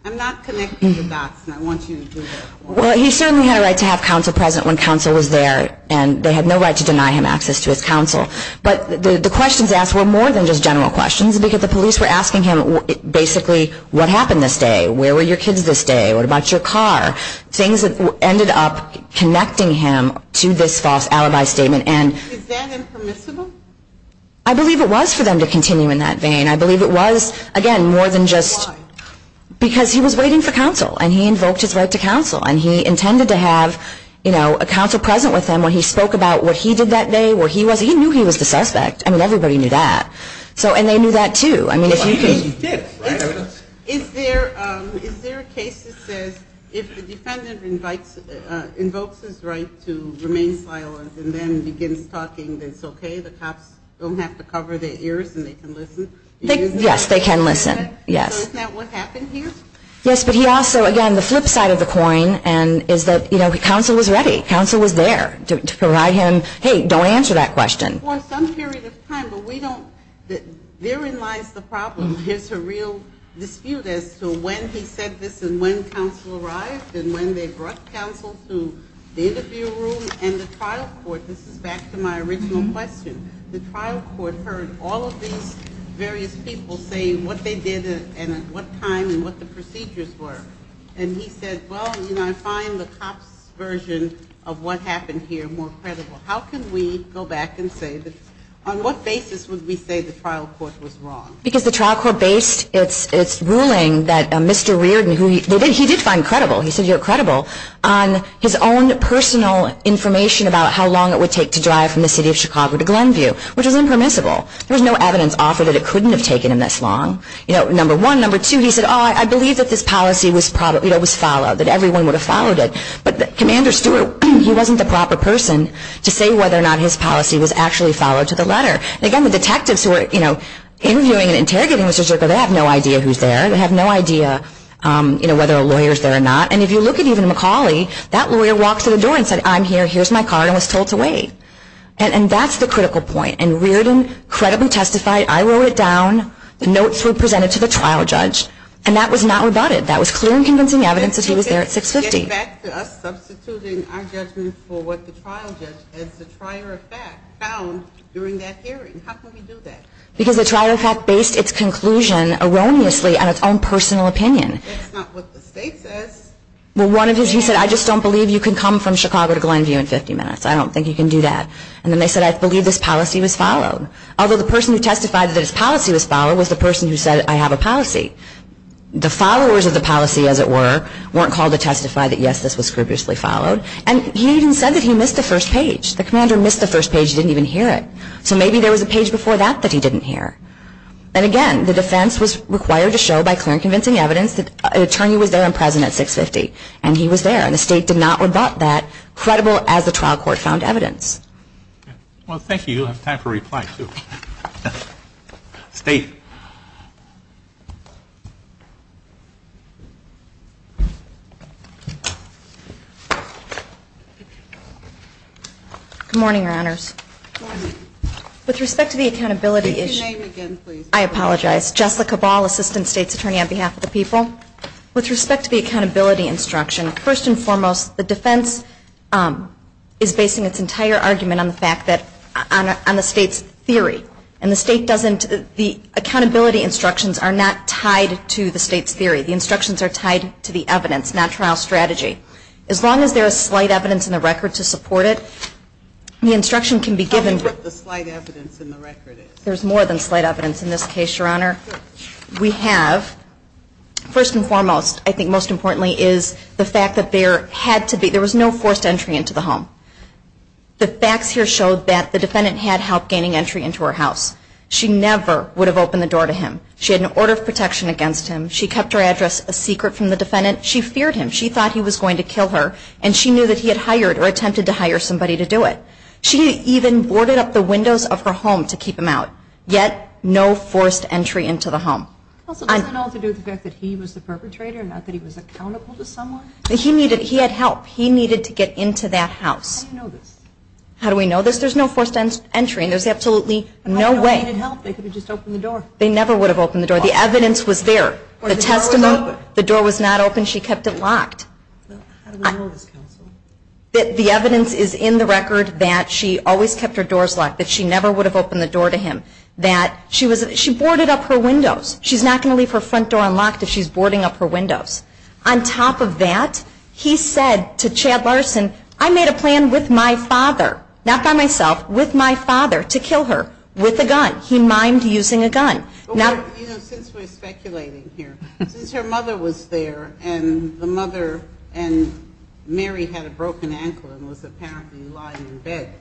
I'm not connecting the dots, and I want you to do that. Well, he certainly had a right to have counsel present when counsel was there, and they had no right to deny him access to his counsel. But the questions asked were more than just general questions because the police were asking him basically what happened this day, where were your kids this day, what about your car, things that ended up connecting him to this false alibi statement. Was it then impermissible? I believe it was for them to continue in that vein. I believe it was, again, more than just because he was waiting for counsel and he invoked his right to counsel and he intended to have a counsel present with him when he spoke about what he did that day, where he was. He knew he was the suspect. I mean, everybody knew that. And they knew that too. Is there a case that says if the defendant invokes his right to remain silent and then you get him talking, then it's okay, the cops don't have to cover their ears and they can listen? Yes, they can listen. So isn't that what happened here? Yes, but he also, again, the flip side of the coin is that, you know, counsel was ready, counsel was there to provide him, hey, don't answer that question. Well, some period of time, but we don't, therein lies the problem. There's a real dispute as to when he said this and when counsel arrived and when they brought counsel to the interview room and the trial court. This is back to my original question. The trial court heard all of these various people saying what they did and at what time and what the procedures were. And he said, well, you know, I find the top version of what happened here more credible. How can we go back and say, on what basis would we say the trial court was wrong? Because the trial court based its ruling that Mr. Reardon, who he did find credible, he says you're credible, on his own personal information about how long it would take to drive from the city of Chicago to Grandview, which is impermissible. There's no evidence offered that it couldn't have taken him this long. You know, number one. Number two, he said, oh, I believe that this policy was followed, that everyone would have followed it. But Commander Stewart, he wasn't the proper person to say whether or not his policy was actually followed to the letter. Again, the detectives who are, you know, interviewing and interrogating Mr. Zirkle, they have no idea who's there. They have no idea, you know, whether a lawyer's there or not. And if you look at even McCauley, that lawyer walked to the door and said, I'm here, here's my card, and was told to wait. And that's the critical point. And Reardon credibly testified. I wrote it down. The notes were presented to the trial judge. And that was not rebutted. That was clear and convincing evidence that he was there at 650. Get back to us substituting our judges for what the trial judge, as the trier of fact, found during that hearing. How could he do that? Because the trier of fact based its conclusion erroneously on its own personal opinion. That's not what the state says. Well, one of his, he said, I just don't believe you can come from Chicago to Grandview in 50 minutes. I don't think you can do that. And then they said, I believe this policy was followed. Although the person who testified that his policy was followed was the person who said, I have a policy. The followers of the policy, as it were, weren't called to testify that, yes, this was scrupulously followed. And he even said that he missed the first page. The commander missed the first page. He didn't even hear it. So maybe there was a page before that that he didn't hear. And, again, the defense was required to show by clear and convincing evidence that an attorney was there and present at 650. And he was there. And the state did not rebut that, credible as the trial court found evidence. Well, thank you. Time for reply two. Faith. Good morning, Your Honors. Good morning. With respect to the accountability issue. Say your name again, please. I apologize. Jessica Ball, Assistant State's Attorney on behalf of the people. With respect to the accountability instruction, first and foremost, the defense is basing its entire argument on the fact that, on the state's theory. And the state doesn't, the accountability instructions are not tied to the state's theory. The instructions are tied to the evidence, not trial strategy. As long as there is slight evidence in the record to support it, the instruction can be given. How much of the slight evidence in the record is? There's more than slight evidence in this case, Your Honor. We have, first and foremost, I think most importantly, is the fact that there had to be, there was no forced entry into the home. The facts here show that the defendant had help gaining entry into her house. She never would have opened the door to him. She had an order of protection against him. She kept her address a secret from the defendant. She feared him. She thought he was going to kill her. And she knew that he had hired or attempted to hire somebody to do it. She even boarded up the windows of her home to keep him out. Yet, no forced entry into the home. He needed, he had help. He needed to get into that house. How do we know this? There's no forced entry. There's absolutely no way. They never would have opened the door. The evidence was there. The testimony, the door was not open. She kept it locked. The evidence is in the record that she always kept her doors locked, that she never would have opened the door to him, that she boarded up her windows. She's not going to leave her front door unlocked if she's boarding up her windows. On top of that, he said to Chad Larson, I made a plan with my father, not by myself, with my father to kill her with a gun. He mined using a gun. You know, since we're speculating here, since her mother was there and the mother and Mary had a broken ankle and was apparently lying in bed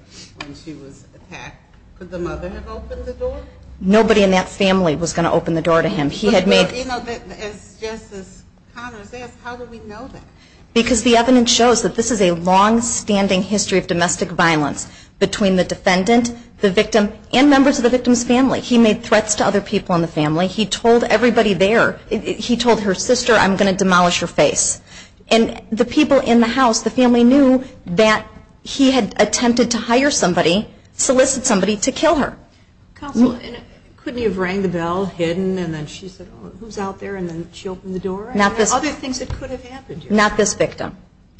when she was attacked, could the mother have opened the door? Nobody in that family was going to open the door to him. He had made... But even if it's just as common, how would we know that? Because the evidence shows that this is a long-standing history of domestic violence between the defendant, the victim, and members of the victim's family. He made threats to other people in the family. He told everybody there. He told her sister, I'm going to demolish her face. And the people in the house, the family, knew that he had attempted to hire somebody, solicit somebody, to kill her. Couldn't he have rang the bell, hidden, and then she said, who's out there, and then she opened the door? Other things that could have happened to her. Not this victim.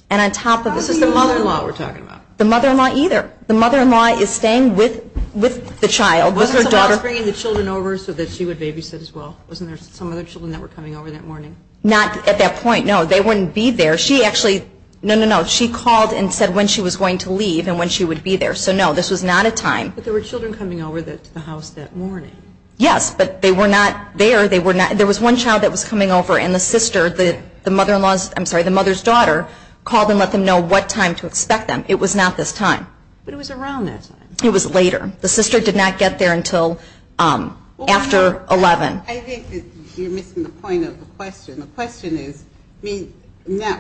And on top of it, the mother-in-law. I thought you meant the mother-in-law we're talking about. The mother-in-law either. The mother-in-law is staying with the child. Wasn't her job bringing the children over so that she would babysit as well? Wasn't there some other children that were coming over that morning? Not at that point, no. They wouldn't be there. She actually, no, no, no. She called and said when she was going to leave and when she would be there. So, no, this was not a time. But there were children coming over to the house that morning. Yes, but they were not there. There was one child that was coming over, and the sister, the mother-in-law's, I'm sorry, the mother's daughter, called and let them know what time to expect them. It was not this time. But it was around that time. It was later. The sister did not get there until after 11. I think you're missing the point of the question. The question is,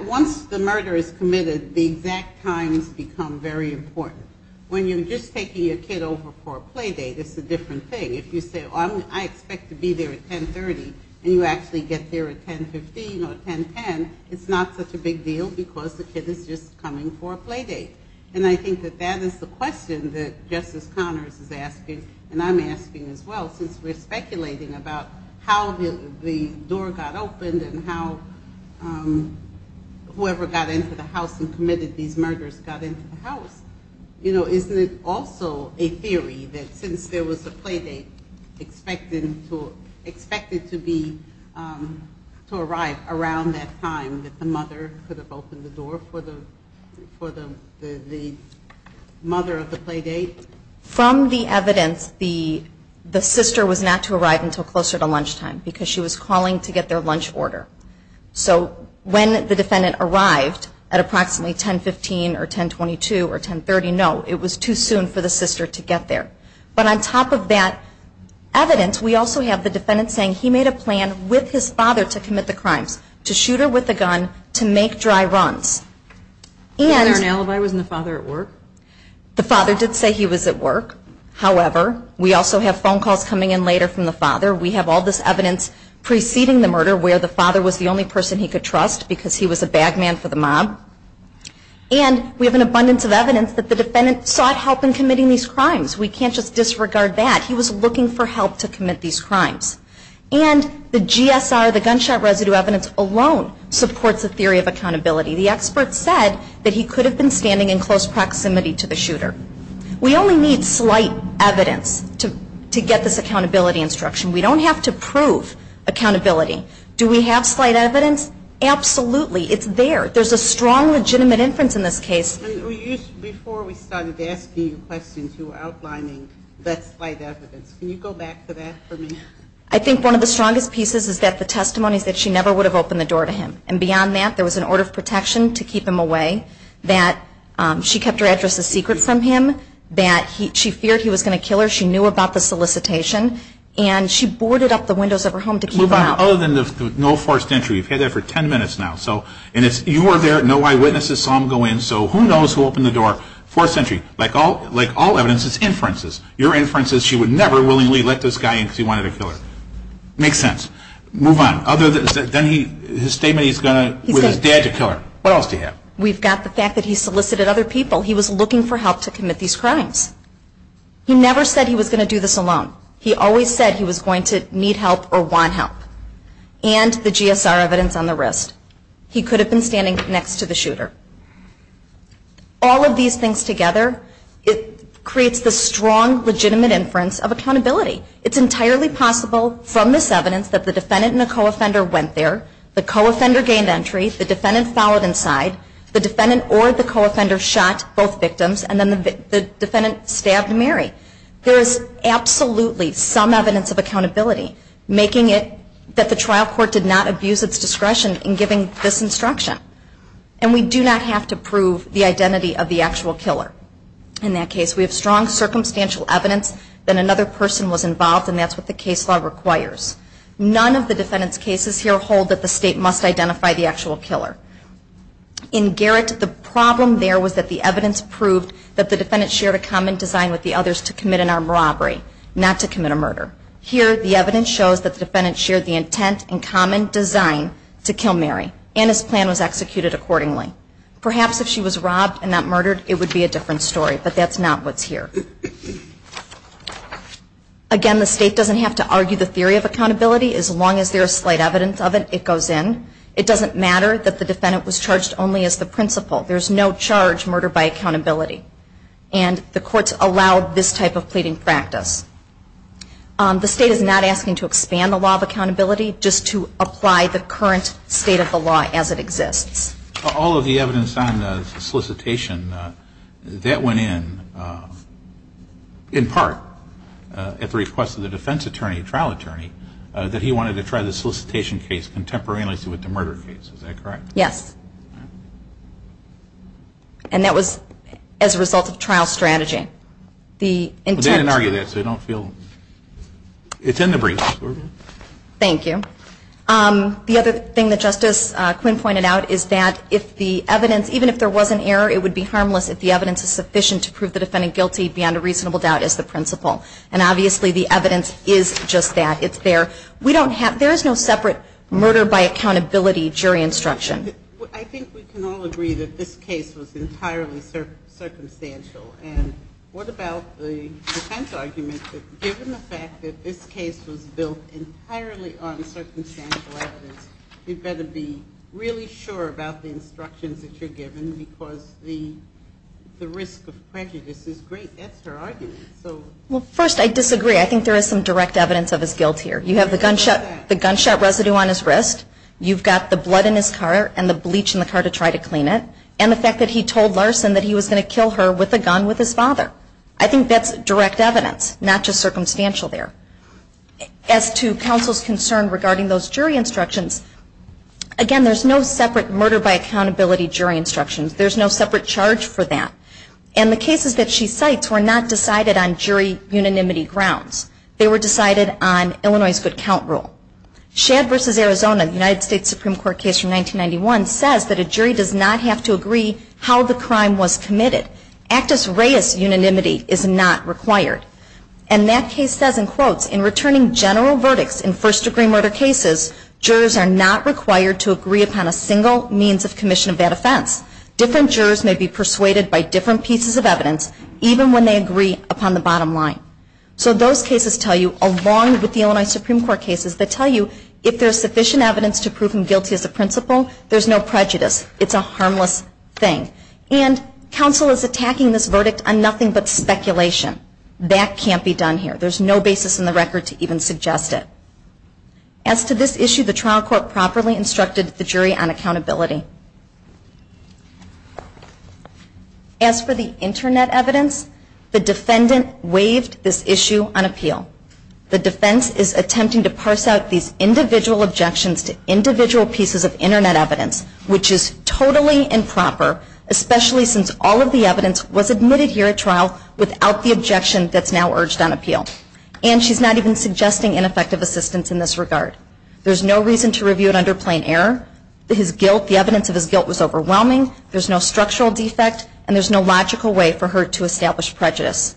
once the murder is committed, the exact times become very important. When you're just taking a kid over for a play date, it's a different thing. If you say, I expect to be there at 10.30, and you actually get there at 10.15 or 10.10, it's not such a big deal because the kid is just coming for a play date. And I think that that is the question that Justice Connors is asking, and I'm asking as well since we're speculating about how the door got opened and how whoever got into the house and committed these murders got into the house. Isn't it also a theory that since there was a play date expected to arrive around that time, that the mother could have opened the door for the mother of the play date? From the evidence, the sister was not to arrive until closer to lunchtime because she was calling to get their lunch order. So when the defendant arrived at approximately 10.15 or 10.22 or 10.30, no, it was too soon for the sister to get there. But on top of that evidence, we also have the defendant saying he made a plan with his father to commit the crime, to shoot her with a gun, to make dry runs. Did the father say he was at work? The father did say he was at work. However, we also have phone calls coming in later from the father. We have all this evidence preceding the murder where the father was the only person he could trust because he was a bag man for the mob. And we have an abundance of evidence that the defendant sought help in committing these crimes. We can't just disregard that. He was looking for help to commit these crimes. And the GSR, the gunshot residue evidence, alone supports the theory of accountability. The expert said that he could have been standing in close proximity to the shooter. We only need slight evidence to get this accountability instruction. We don't have to prove accountability. Do we have slight evidence? Absolutely. It's there. There's a strong legitimate inference in this case. I think one of the strongest pieces is that the testimony that she never would have opened the door to him. And beyond that, there was an order of protection to keep him away that she kept her address a secret from him. She feared he was going to kill her. She knew about the solicitation. And she boarded up the windows of her home to keep her out. Other than no forced entry. You've had that for 10 minutes now. And if you were there, no eyewitnesses saw him go in. So who knows who opened the door? Forced entry. Like all evidence, it's inferences. Your inference is she would never willingly let this guy in because he wanted to kill her. Makes sense. Move on. Other than his statement he's going to, with his dad to kill her. What else do you have? We've got the fact that he solicited other people. He was looking for help to commit these crimes. He never said he was going to do this alone. He always said he was going to need help or want help. And the GSR evidence on the wrist. He could have been standing next to the shooter. All of these things together, it creates this strong legitimate inference of accountability. It's entirely possible from this evidence that the defendant and the co-offender went there. The co-offender gained entry. The defendant followed inside. The defendant or the co-offender shot both victims, and then the defendant stabbed Mary. There is absolutely some evidence of accountability, making it that the trial court did not abuse its discretion in giving this instruction. And we do not have to prove the identity of the actual killer in that case. We have strong circumstantial evidence that another person was involved, and that's what the case law requires. None of the defendant's cases here hold that the state must identify the actual killer. In Garrett, the problem there was that the evidence proved that the defendant shared a common design with the others to commit an armed robbery, not to commit a murder. Here, the evidence shows that the defendant shared the intent and common design to kill Mary, and his plan was executed accordingly. Perhaps if she was robbed and not murdered, it would be a different story, but that's not what's here. Again, the state doesn't have to argue the theory of accountability. As long as there is slight evidence of it, it goes in. It doesn't matter that the defendant was charged only as the principal. There's no charge, murder by accountability. And the courts allow this type of pleading practice. The state is not asking to expand the law of accountability, just to apply the current state of the law as it exists. All of the evidence on solicitation, that went in, in part, at the request of the defense attorney, the trial attorney, that he wanted to try the solicitation case contemporaneously with the murder case. Is that correct? Yes. And that was as a result of trial strategy. They didn't argue that, so I don't feel... It's in the briefs. Thank you. The other thing that Justice Quinn pointed out is that if the evidence, even if there was an error, it would be harmless if the evidence is sufficient to prove the defendant guilty beyond a reasonable doubt as the principal. And obviously, the evidence is just that. It's there. We don't have... There is no separate murder by accountability jury instruction. I think we can all agree that this case was entirely circumstantial. And what about the defense argument that given the fact that this case was built entirely on circumstantial evidence, you'd better be really sure about the instructions that you're given because the risk of prejudice is great. That's her argument. Well, first, I disagree. I think there is some direct evidence of his guilt here. You have the gunshot residue on his wrist. You've got the blood in his car and the bleach in the car to try to clean it. And the fact that he told Larson that he was going to kill her with a gun with his father. I think that's direct evidence, not just circumstantial there. As to counsel's concern regarding those jury instructions, again, there's no separate murder by accountability jury instructions. There's no separate charge for that. And the cases that she cites were not decided on jury unanimity grounds. They were decided on Illinois' good count rule. Shad v. Arizona, United States Supreme Court case from 1991, says that a jury does not have to agree how the crime was committed. Actus reus unanimity is not required. And that case says, and quotes, in returning general verdicts in first degree murder cases, jurors are not required to agree upon a single means of commission of that offense. Different jurors may be persuaded by different pieces of evidence, even when they agree upon the bottom line. So those cases tell you, along with the Illinois Supreme Court cases, that tell you if there's sufficient evidence to prove him guilty as a principal, there's no prejudice. It's a harmless thing. And counsel is attacking this verdict on nothing but speculation. That can't be done here. There's no basis in the record to even suggest it. As to this issue, the trial court properly instructed the jury on accountability. As for the Internet evidence, the defendant waived this issue on appeal. The defense is attempting to parse out these individual objections to individual pieces of Internet evidence, which is totally improper, especially since all of the evidence was admitted here at trial without the objection that's now urged on appeal. And she's not even suggesting ineffective assistance in this regard. There's no reason to review it under plain error. The evidence of his guilt was overwhelming. There's no structural defect, and there's no logical way for her to establish prejudice.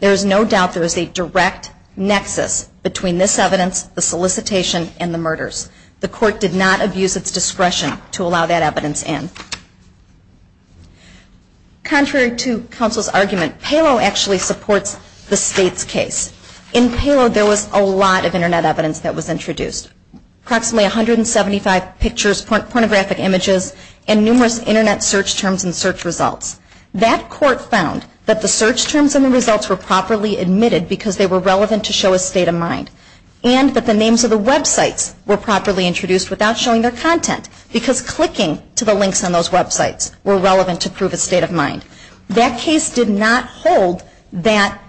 There's no doubt there's a direct nexus between this evidence, the solicitation, and the murders. The court did not abuse its discretion to allow that evidence in. Contrary to counsel's argument, Palo actually supports the state's case. In Palo, there was a lot of Internet evidence that was introduced, approximately 175 pictures, pornographic images, and numerous Internet search terms and search results. That court found that the search terms and the results were properly admitted because they were relevant to show a state of mind, and that the names of the websites were properly introduced without showing their content because clicking to the links on those websites were relevant to prove a state of mind. That case did not hold that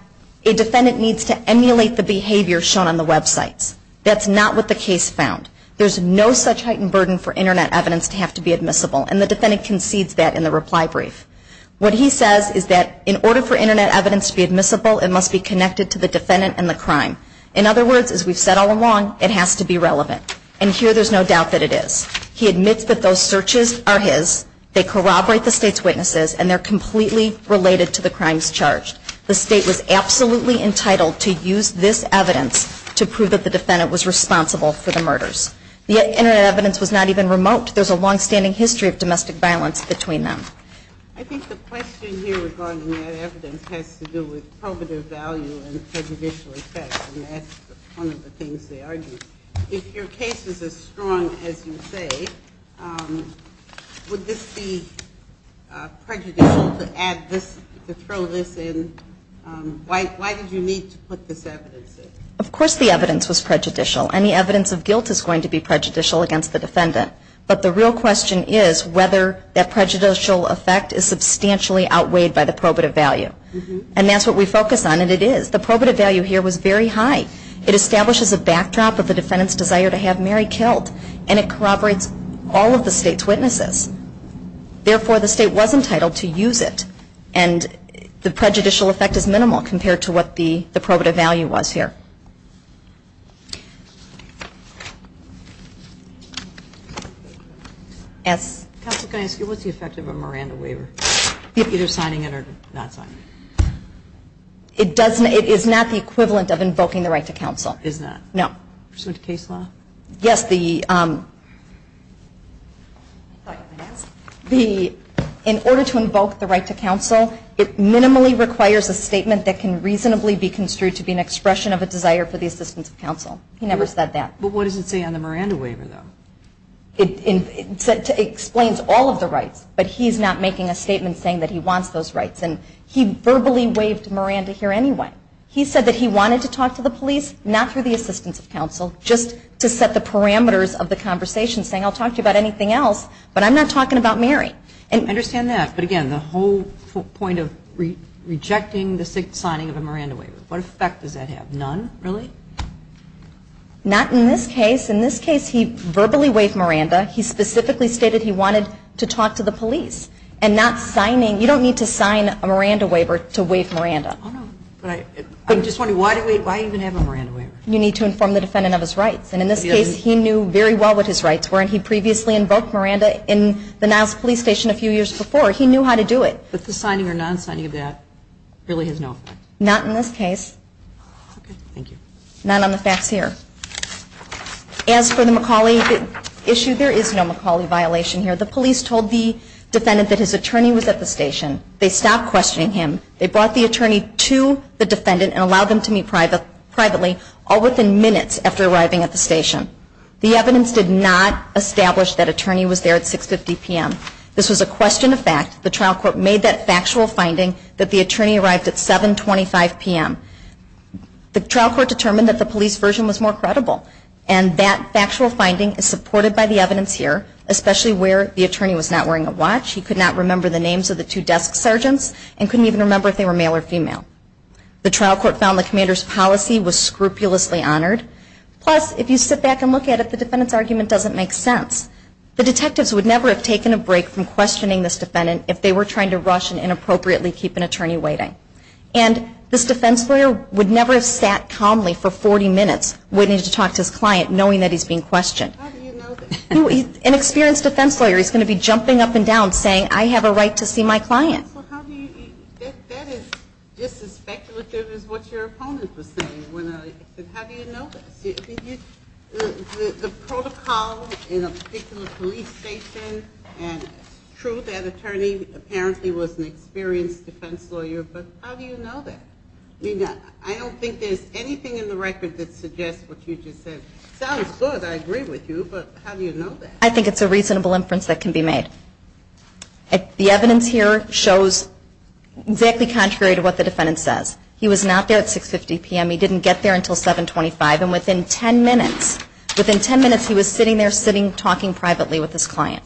a defendant needs to emulate the behavior shown on the website. That's not what the case found. There's no such heightened burden for Internet evidence to have to be admissible, and the defendant concedes that in the reply brief. What he says is that in order for Internet evidence to be admissible, it must be connected to the defendant and the crime. In other words, as we've said all along, it has to be relevant. And here there's no doubt that it is. He admits that those searches are his. They corroborate the state's witnesses, and they're completely related to the crimes charged. The state was absolutely entitled to use this evidence to prove that the defendant was responsible for the murders. The Internet evidence was not even remote. There's a long-standing history of domestic violence between them. I think the question here regarding that evidence has to do with coveted value and prejudicial effect, and that's one of the things they argue. If your case is as strong as you say, would this be prejudicial to throw this in? Why did you need to put this evidence in? Of course the evidence was prejudicial, and the evidence of guilt is going to be prejudicial against the defendant. But the real question is whether that prejudicial effect is substantially outweighed by the probative value. And that's what we focus on, and it is. The probative value here was very high. It establishes a backdrop of the defendant's desire to have Mary killed, and it corroborates all of the state's witnesses. Therefore, the state was entitled to use it, and the prejudicial effect is minimal compared to what the probative value was here. Yes? Counselor, can I ask you, what's the effect of a Miranda waiver? Either signing it or not signing it. It is not the equivalent of invoking the right to counsel. Is that? No. Is there a case law? Yes. In order to invoke the right to counsel, it minimally requires a statement that can reasonably be construed to be an expression of a desire for the assistance of counsel. He never said that. But what does it say on the Miranda waiver, though? It explains all of the rights, but he's not making a statement saying that he wants those rights. And he verbally waived Miranda here anyway. He said that he wanted to talk to the police, not through the assistance of counsel, just to set the parameters of the conversation, saying I'll talk to you about anything else, but I'm not talking about Mary. I understand that. But again, the whole point of rejecting the signing of a Miranda waiver, what effect does that have? None, really? Not in this case. In this case, he verbally waived Miranda. He specifically stated he wanted to talk to the police. You don't need to sign a Miranda waiver to waive Miranda. I'm just wondering, why even have a Miranda waiver? You need to inform the defendant of his rights. And in this case, he knew very well what his rights were, and he previously invoked Miranda in the Niles Police Station a few years before. He knew how to do it. But the signing or non-signing of that really has no effect? Not in this case. Okay, thank you. Not on the facts here. As for the McCauley issue, there is no McCauley violation here. The police told the defendant that his attorney was at the station. They stopped questioning him. They brought the attorney to the defendant and allowed them to meet privately, all within minutes after arriving at the station. The evidence did not establish that attorney was there at 6.50 p.m. This was a question of facts. The trial court made that factual finding that the attorney arrived at 7.25 p.m. The trial court determined that the police version was more credible, and that factual finding is supported by the evidence here, especially where the attorney was not wearing a watch, he could not remember the names of the two desk sergeants, and couldn't even remember if they were male or female. The trial court found the commander's policy was scrupulously honored. Plus, if you sit back and look at it, the defendant's argument doesn't make sense. The detectives would never have taken a break from questioning this defendant if they were trying to rush and inappropriately keep an attorney waiting. And this defense lawyer would never have sat calmly for 40 minutes waiting to talk to his client knowing that he's being questioned. How do you know that? An experienced defense lawyer is going to be jumping up and down saying, I have a right to see my client. That is just as speculative as what your opponents are saying. How do you know that? The protocol in a particular police station, and true, that attorney apparently was an experienced defense lawyer, but how do you know that? I don't think there's anything in the record that suggests what you just said. Sounds good, I agree with you, but how do you know that? I think it's a reasonable inference that can be made. The evidence here shows exactly contrary to what the defendant says. He was not there at 6.50 p.m., he didn't get there until 7.25, and within 10 minutes he was sitting there talking privately with his client.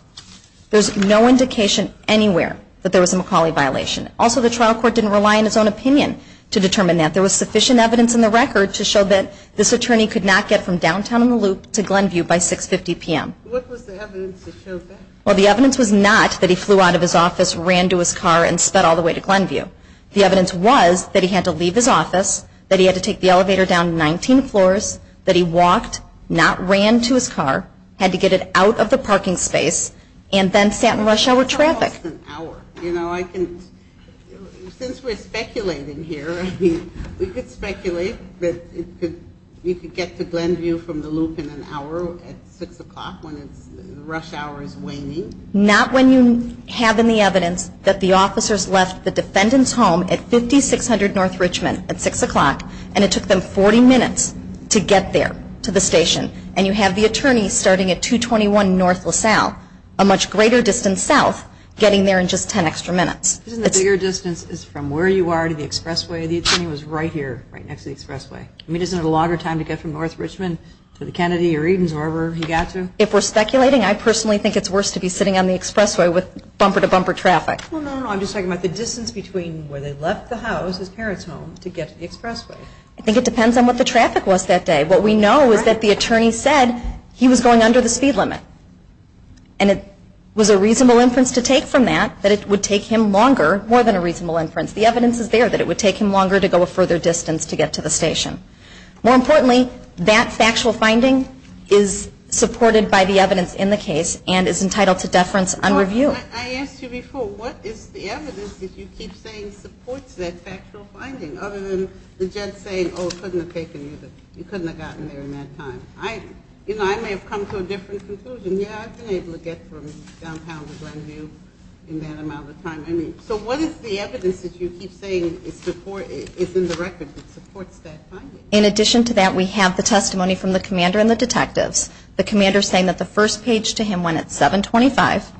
There's no indication anywhere that there was a McCauley violation. Also, the trial court didn't rely on his own opinion to determine that. There was sufficient evidence in the record to show that this attorney could not get from downtown in the Loop to Glenview by 6.50 p.m. What was the evidence that showed that? The evidence was not that he flew out of his office, ran to his car, and sped all the way to Glenview. The evidence was that he had to leave his office, that he had to take the elevator down 19 floors, that he walked, not ran to his car, had to get it out of the parking space, and then sat in rush hour traffic. You know, since we're speculating here, we could speculate that you could get to Glenview from the Loop in an hour at 6 o'clock when rush hour is waning. Not when you have in the evidence that the officers left the defendant's home at 5600 North Richmond at 6 o'clock, and it took them 40 minutes to get there to the station, and you have the attorney starting at 221 North LaSalle, a much greater distance south, getting there in just 10 extra minutes. Isn't the bigger distance from where you are to the expressway? The attorney was right here, right next to the expressway. I mean, isn't it a longer time to get from North Richmond to the Kennedy or even wherever he got to? If we're speculating, I personally think it's worse to be sitting on the expressway with bumper-to-bumper traffic. Well, no, no, I'm just talking about the distance between where they left the house, his parents' home, to get to the expressway. I think it depends on what the traffic was that day. What we know is that the attorney said he was going under the speed limit, and it was a reasonable inference to take from that that it would take him longer, more than a reasonable inference. The evidence is there that it would take him longer to go a further distance to get to the station. More importantly, that factual finding is supported by the evidence in the case and is entitled to deference and review. I asked you before, what is the evidence that you keep saying supports that factual finding other than the judge saying, oh, it couldn't have taken you, you couldn't have gotten there in that time. I may have come to a different conclusion. I've been able to get from downtown to Grandview in that amount of time. So what is the evidence that you keep saying is in the record that supports that finding? In addition to that, we have the testimony from the commander and the detective. The commander is saying that the first page to him went at 7.25.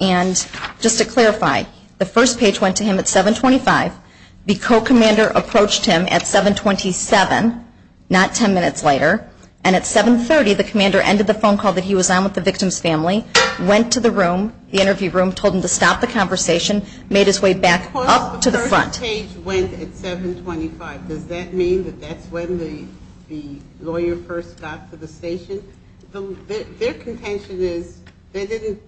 And just to clarify, the first page went to him at 7.25, the co-commander approached him at 7.27, not 10 minutes later, and at 7.30 the commander ended the phone call that he was on with the victim's family, went to the room, the interview room, told him to stop the conversation, made his way back up to the front. The first page went at 7.25. Does that mean that that's when the lawyer first got to the station? Their contention is they didn't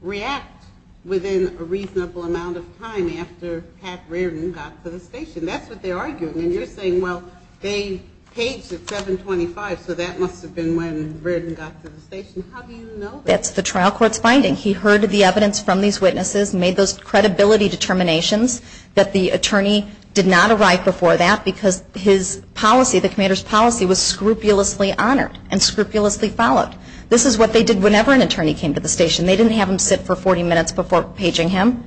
react within a reasonable amount of time after Pat Reardon got to the station. That's what they're arguing. And you're saying, well, they paged at 7.25, so that must have been when Reardon got to the station. How do you know that? That's the trial court's finding. He heard the evidence from these witnesses, made those credibility determinations that the attorney did not arrive before that because his policy, the commander's policy, was scrupulously honored and scrupulously followed. This is what they did whenever an attorney came to the station. They didn't have him sit for 40 minutes before paging him.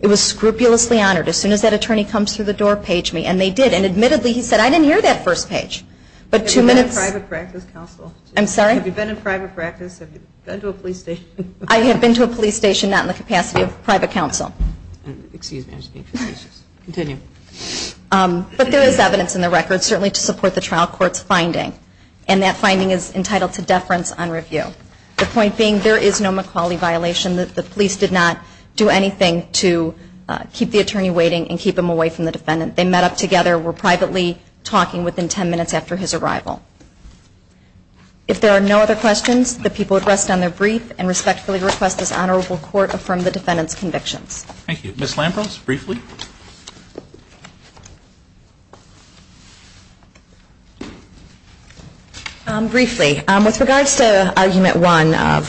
It was scrupulously honored. As soon as that attorney comes through the door, page me. And they did. And admittedly, he said, I didn't hear that first page. Have you been in private practice, counsel? I'm sorry? Have you been in private practice? Have you been to a police station? I have been to a police station, not in the capacity of private counsel. Excuse me. But there is evidence in the record, certainly to support the trial court's finding. And that finding is entitled to deference on review. The point being, there is no McAuley violation. The police did not do anything to keep the attorney waiting and keep him away from the defendant. They met up together, were privately talking within 10 minutes after his arrival. If there are no other questions, the people would rest on their briefs and respectfully request this honorable court affirm the defendant's conviction. Thank you. Ms. Lampos, briefly? Briefly. With regards to Argument 1 of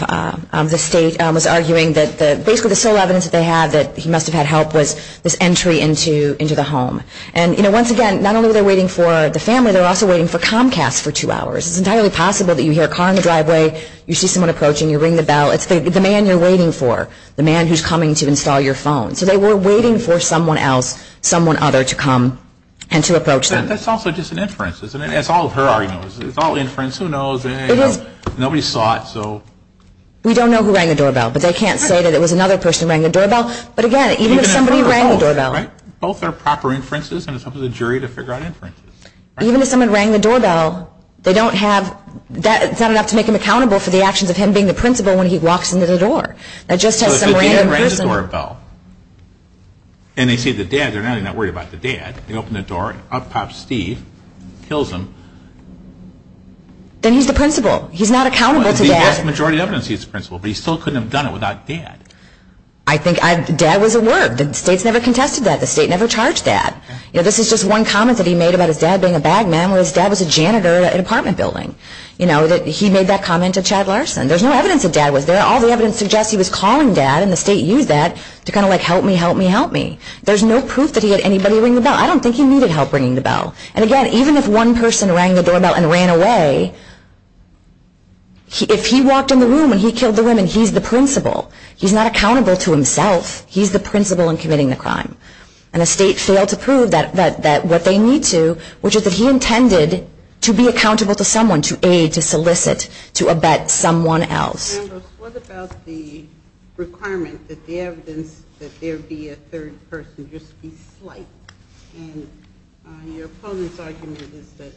the state, Mr. McAuley was arguing that basically the sole evidence that they had that he must have had help with was entry into the home. And once again, not only were they waiting for the family, they were also waiting for Comcast for two hours. It's entirely possible that you hear a car in the driveway, you see someone approaching, you ring the bell. It's the man you're waiting for, the man who's coming to install your phone. So they were waiting for someone else, someone other, to come and to approach them. That's also just an inference, isn't it? That's all her argument. It's all inference. Who knows? Nobody saw it, so. We don't know who rang the doorbell, but they can't say that it was another person who rang the doorbell. But again, even if somebody rang the doorbell. Both are proper inferences, and it's up to the jury to figure out inferences. Even if someone rang the doorbell, they don't have, it's not enough to make them accountable for the actions of him being the principal when he walks into the door. That just tells somebody they're the principal. So if the dad rang the doorbell, and they see the dad, they're not even worried about the dad. They open the door, up pops Steve, kills him. Then he's the principal. He's not accountable to dad. The vast majority of evidence he's the principal, but he still couldn't have done it without dad. I think dad was a word. The state's never contested that. The state never charged dad. You know, this is just one comment that he made about his dad being a bag man, where his dad was a janitor at an apartment building. You know, he made that comment to Chad Larson. There's no evidence that dad was there. All the evidence suggests he was calling dad, and the state used that to kind of like help me, help me, help me. There's no proof that he had anybody ring the bell. I don't think he needed help ringing the bell. And, again, even if one person rang the doorbell and ran away, if he walked in the room and he killed the woman, he's the principal. He's not accountable to himself. He's the principal in committing the crime. And the state failed to prove that what they need to, which is that he intended to be accountable to someone, to aid, to solicit, to abet someone else. What about the requirement that the evidence that there be a third person just be slight? And your opponent's argument is that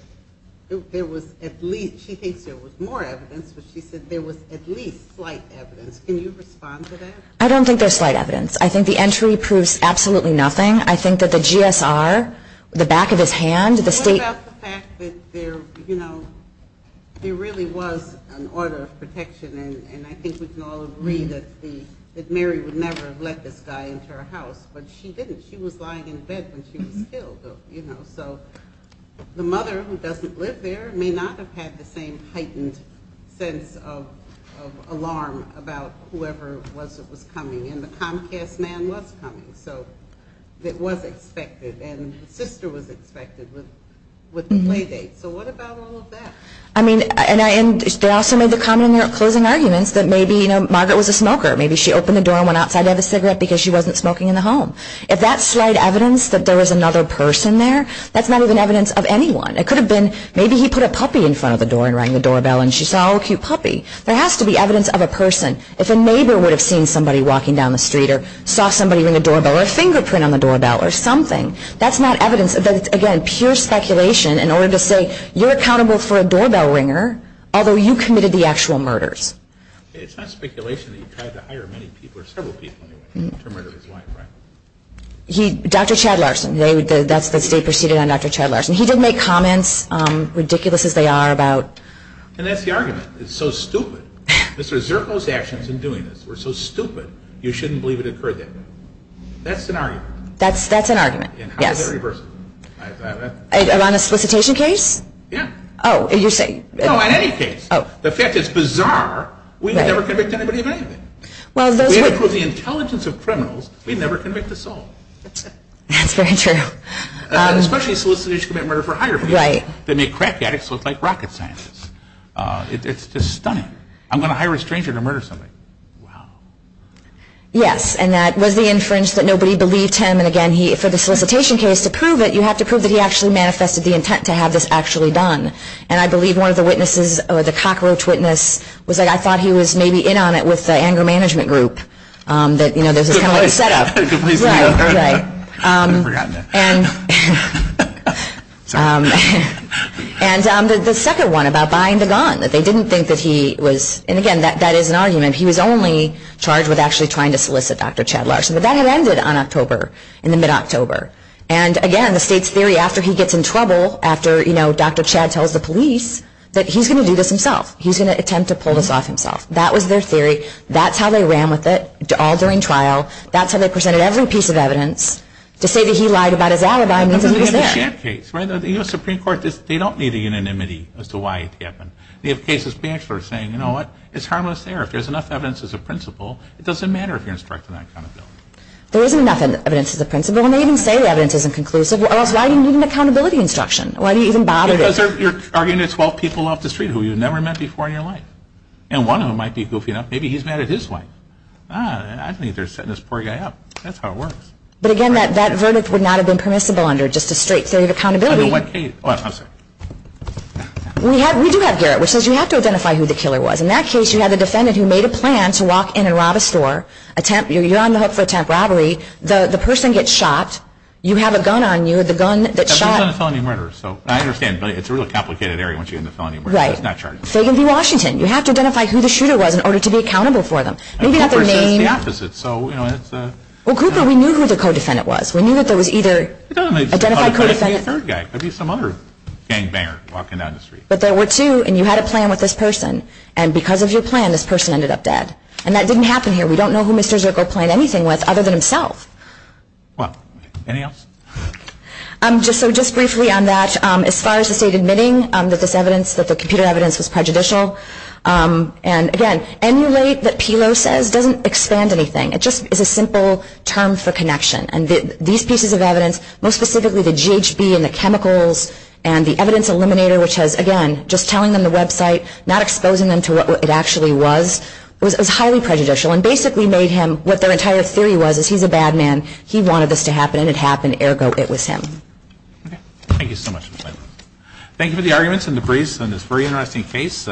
there was at least, she thinks there was more evidence, but she said there was at least slight evidence. Can you respond to that? I don't think there's slight evidence. I think the entry proves absolutely nothing. I think that the GSR, the back of his hand, the state— There really was an order of protection. And I think we can all agree that Mary would never have let this guy into her house. But she didn't. She was lying in bed when she was killed. So the mother, who doesn't live there, may not have had the same heightened sense of alarm about whoever it was that was coming. And the Comcast man was coming. So it was expected. And the sister was expected with the play date. So what about all of that? And they also made the comment in their closing arguments that maybe Margaret was a smoker. Maybe she opened the door and went outside to have a cigarette because she wasn't smoking in the home. If that's slight evidence that there was another person there, that's not even evidence of anyone. It could have been maybe he put a puppy in front of the door and rang the doorbell, and she saw a little cute puppy. There has to be evidence of a person. If a neighbor would have seen somebody walking down the street or saw somebody ring the doorbell or a fingerprint on the doorbell or something, that's not evidence. That's, again, pure speculation in order to say you're accountable for a doorbell ringer, although you committed the actual murders. It's not speculation that he tried to hire many people or several people to murder his wife, right? Dr. Chad Larson. That's what they proceeded on, Dr. Chad Larson. He did make comments, ridiculous as they are, about... And that's the argument. It's so stupid. Let's reserve those actions in doing this. We're so stupid. You shouldn't believe it occurred that way. That's an argument. That's an argument. Around a solicitation case? Yeah. Oh, is he saying... No, in any case. Oh. The fact is, bizarre. We've never convicted anybody of anything. Even with the intelligence of criminals, we've never convicted us all. That's very true. Especially solicitors who commit murder for hire. Right. Then they crack that. It's like rocket science. It's stunning. I'm going to hire a stranger to murder somebody. Wow. Yes, and that was the inference that nobody believed him. And, again, for the solicitation case, to prove it, you have to prove that he actually manifested the intent to have this actually done. And I believe one of the witnesses, or the cockroach witness, was that I thought he was maybe in on it with the anger management group. That, you know, there's this whole set-up. Yeah, okay. I've forgotten it. And the second one about buying the gun, that they didn't think that he was... And, again, that is an argument. He was only charged with actually trying to solicit Dr. Chad Larson. But that had ended on October, in the mid-October. And, again, the state's theory, after he gets in trouble, after, you know, Dr. Chad tells the police that he's going to do this himself. He's going to attempt to pull this off himself. That was their theory. That's how they ran with it, all during trial. That's how they presented every piece of evidence to say that he lied about his alibi. They don't need a unanimity as to why it happened. They have cases being sure, saying, you know what, it's harmless there. If there's enough evidence as a principle, it doesn't matter if you're instructed on accountability. There isn't enough evidence as a principle, and they even say evidence isn't conclusive. Why do you need an accountability instruction? Why do you even bother? Because you're arguing there's 12 people off the street who you've never met before in your life. And one of them might be goofing off. Maybe he's mad at his wife. Ah, I think they're setting this poor guy up. That's how it works. But, again, that verdict would not have been permissible under just a straight theory of accountability. Under what case? Oh, I'm sorry. We do have Garrett, which says you have to identify who the killer was. In that case, you have a defendant who made a plan to walk in and rob a store. You're on the hook for attempted robbery. The person gets shot. You have a gun on you. The gun that shot him. I understand. But it's a really complicated area once you get into felony murder. Right. So you can be Washington. You have to identify who the shooter was in order to be accountable for them. And the person is the opposite. Well, Cooper, we knew who the co-defendant was. We knew that there was either identified co-defendant. There'd be a third guy. There'd be some other gangbanger walking down the street. But there were two, and you had a plan with this person. And because of your plan, this person ended up dead. And that didn't happen here. We don't know who Mr. Zirkel planned anything with other than himself. What? Anything else? So just briefly on that, as far as just admitting that this evidence, that the computer evidence was prejudicial. And, again, emulate that PILO says doesn't expand anything. It just is a simple term for connection. And these pieces of evidence, most specifically the GHB and the chemicals and the evidence eliminator, which has, again, just telling them the website, not exposing them to what it actually was, is highly prejudicial and basically made him what their entire theory was is he's a bad man. He wanted this to happen, and it happened. Ergo, it was him. Thank you so much. Thank you for the arguments and the briefs on this very interesting case.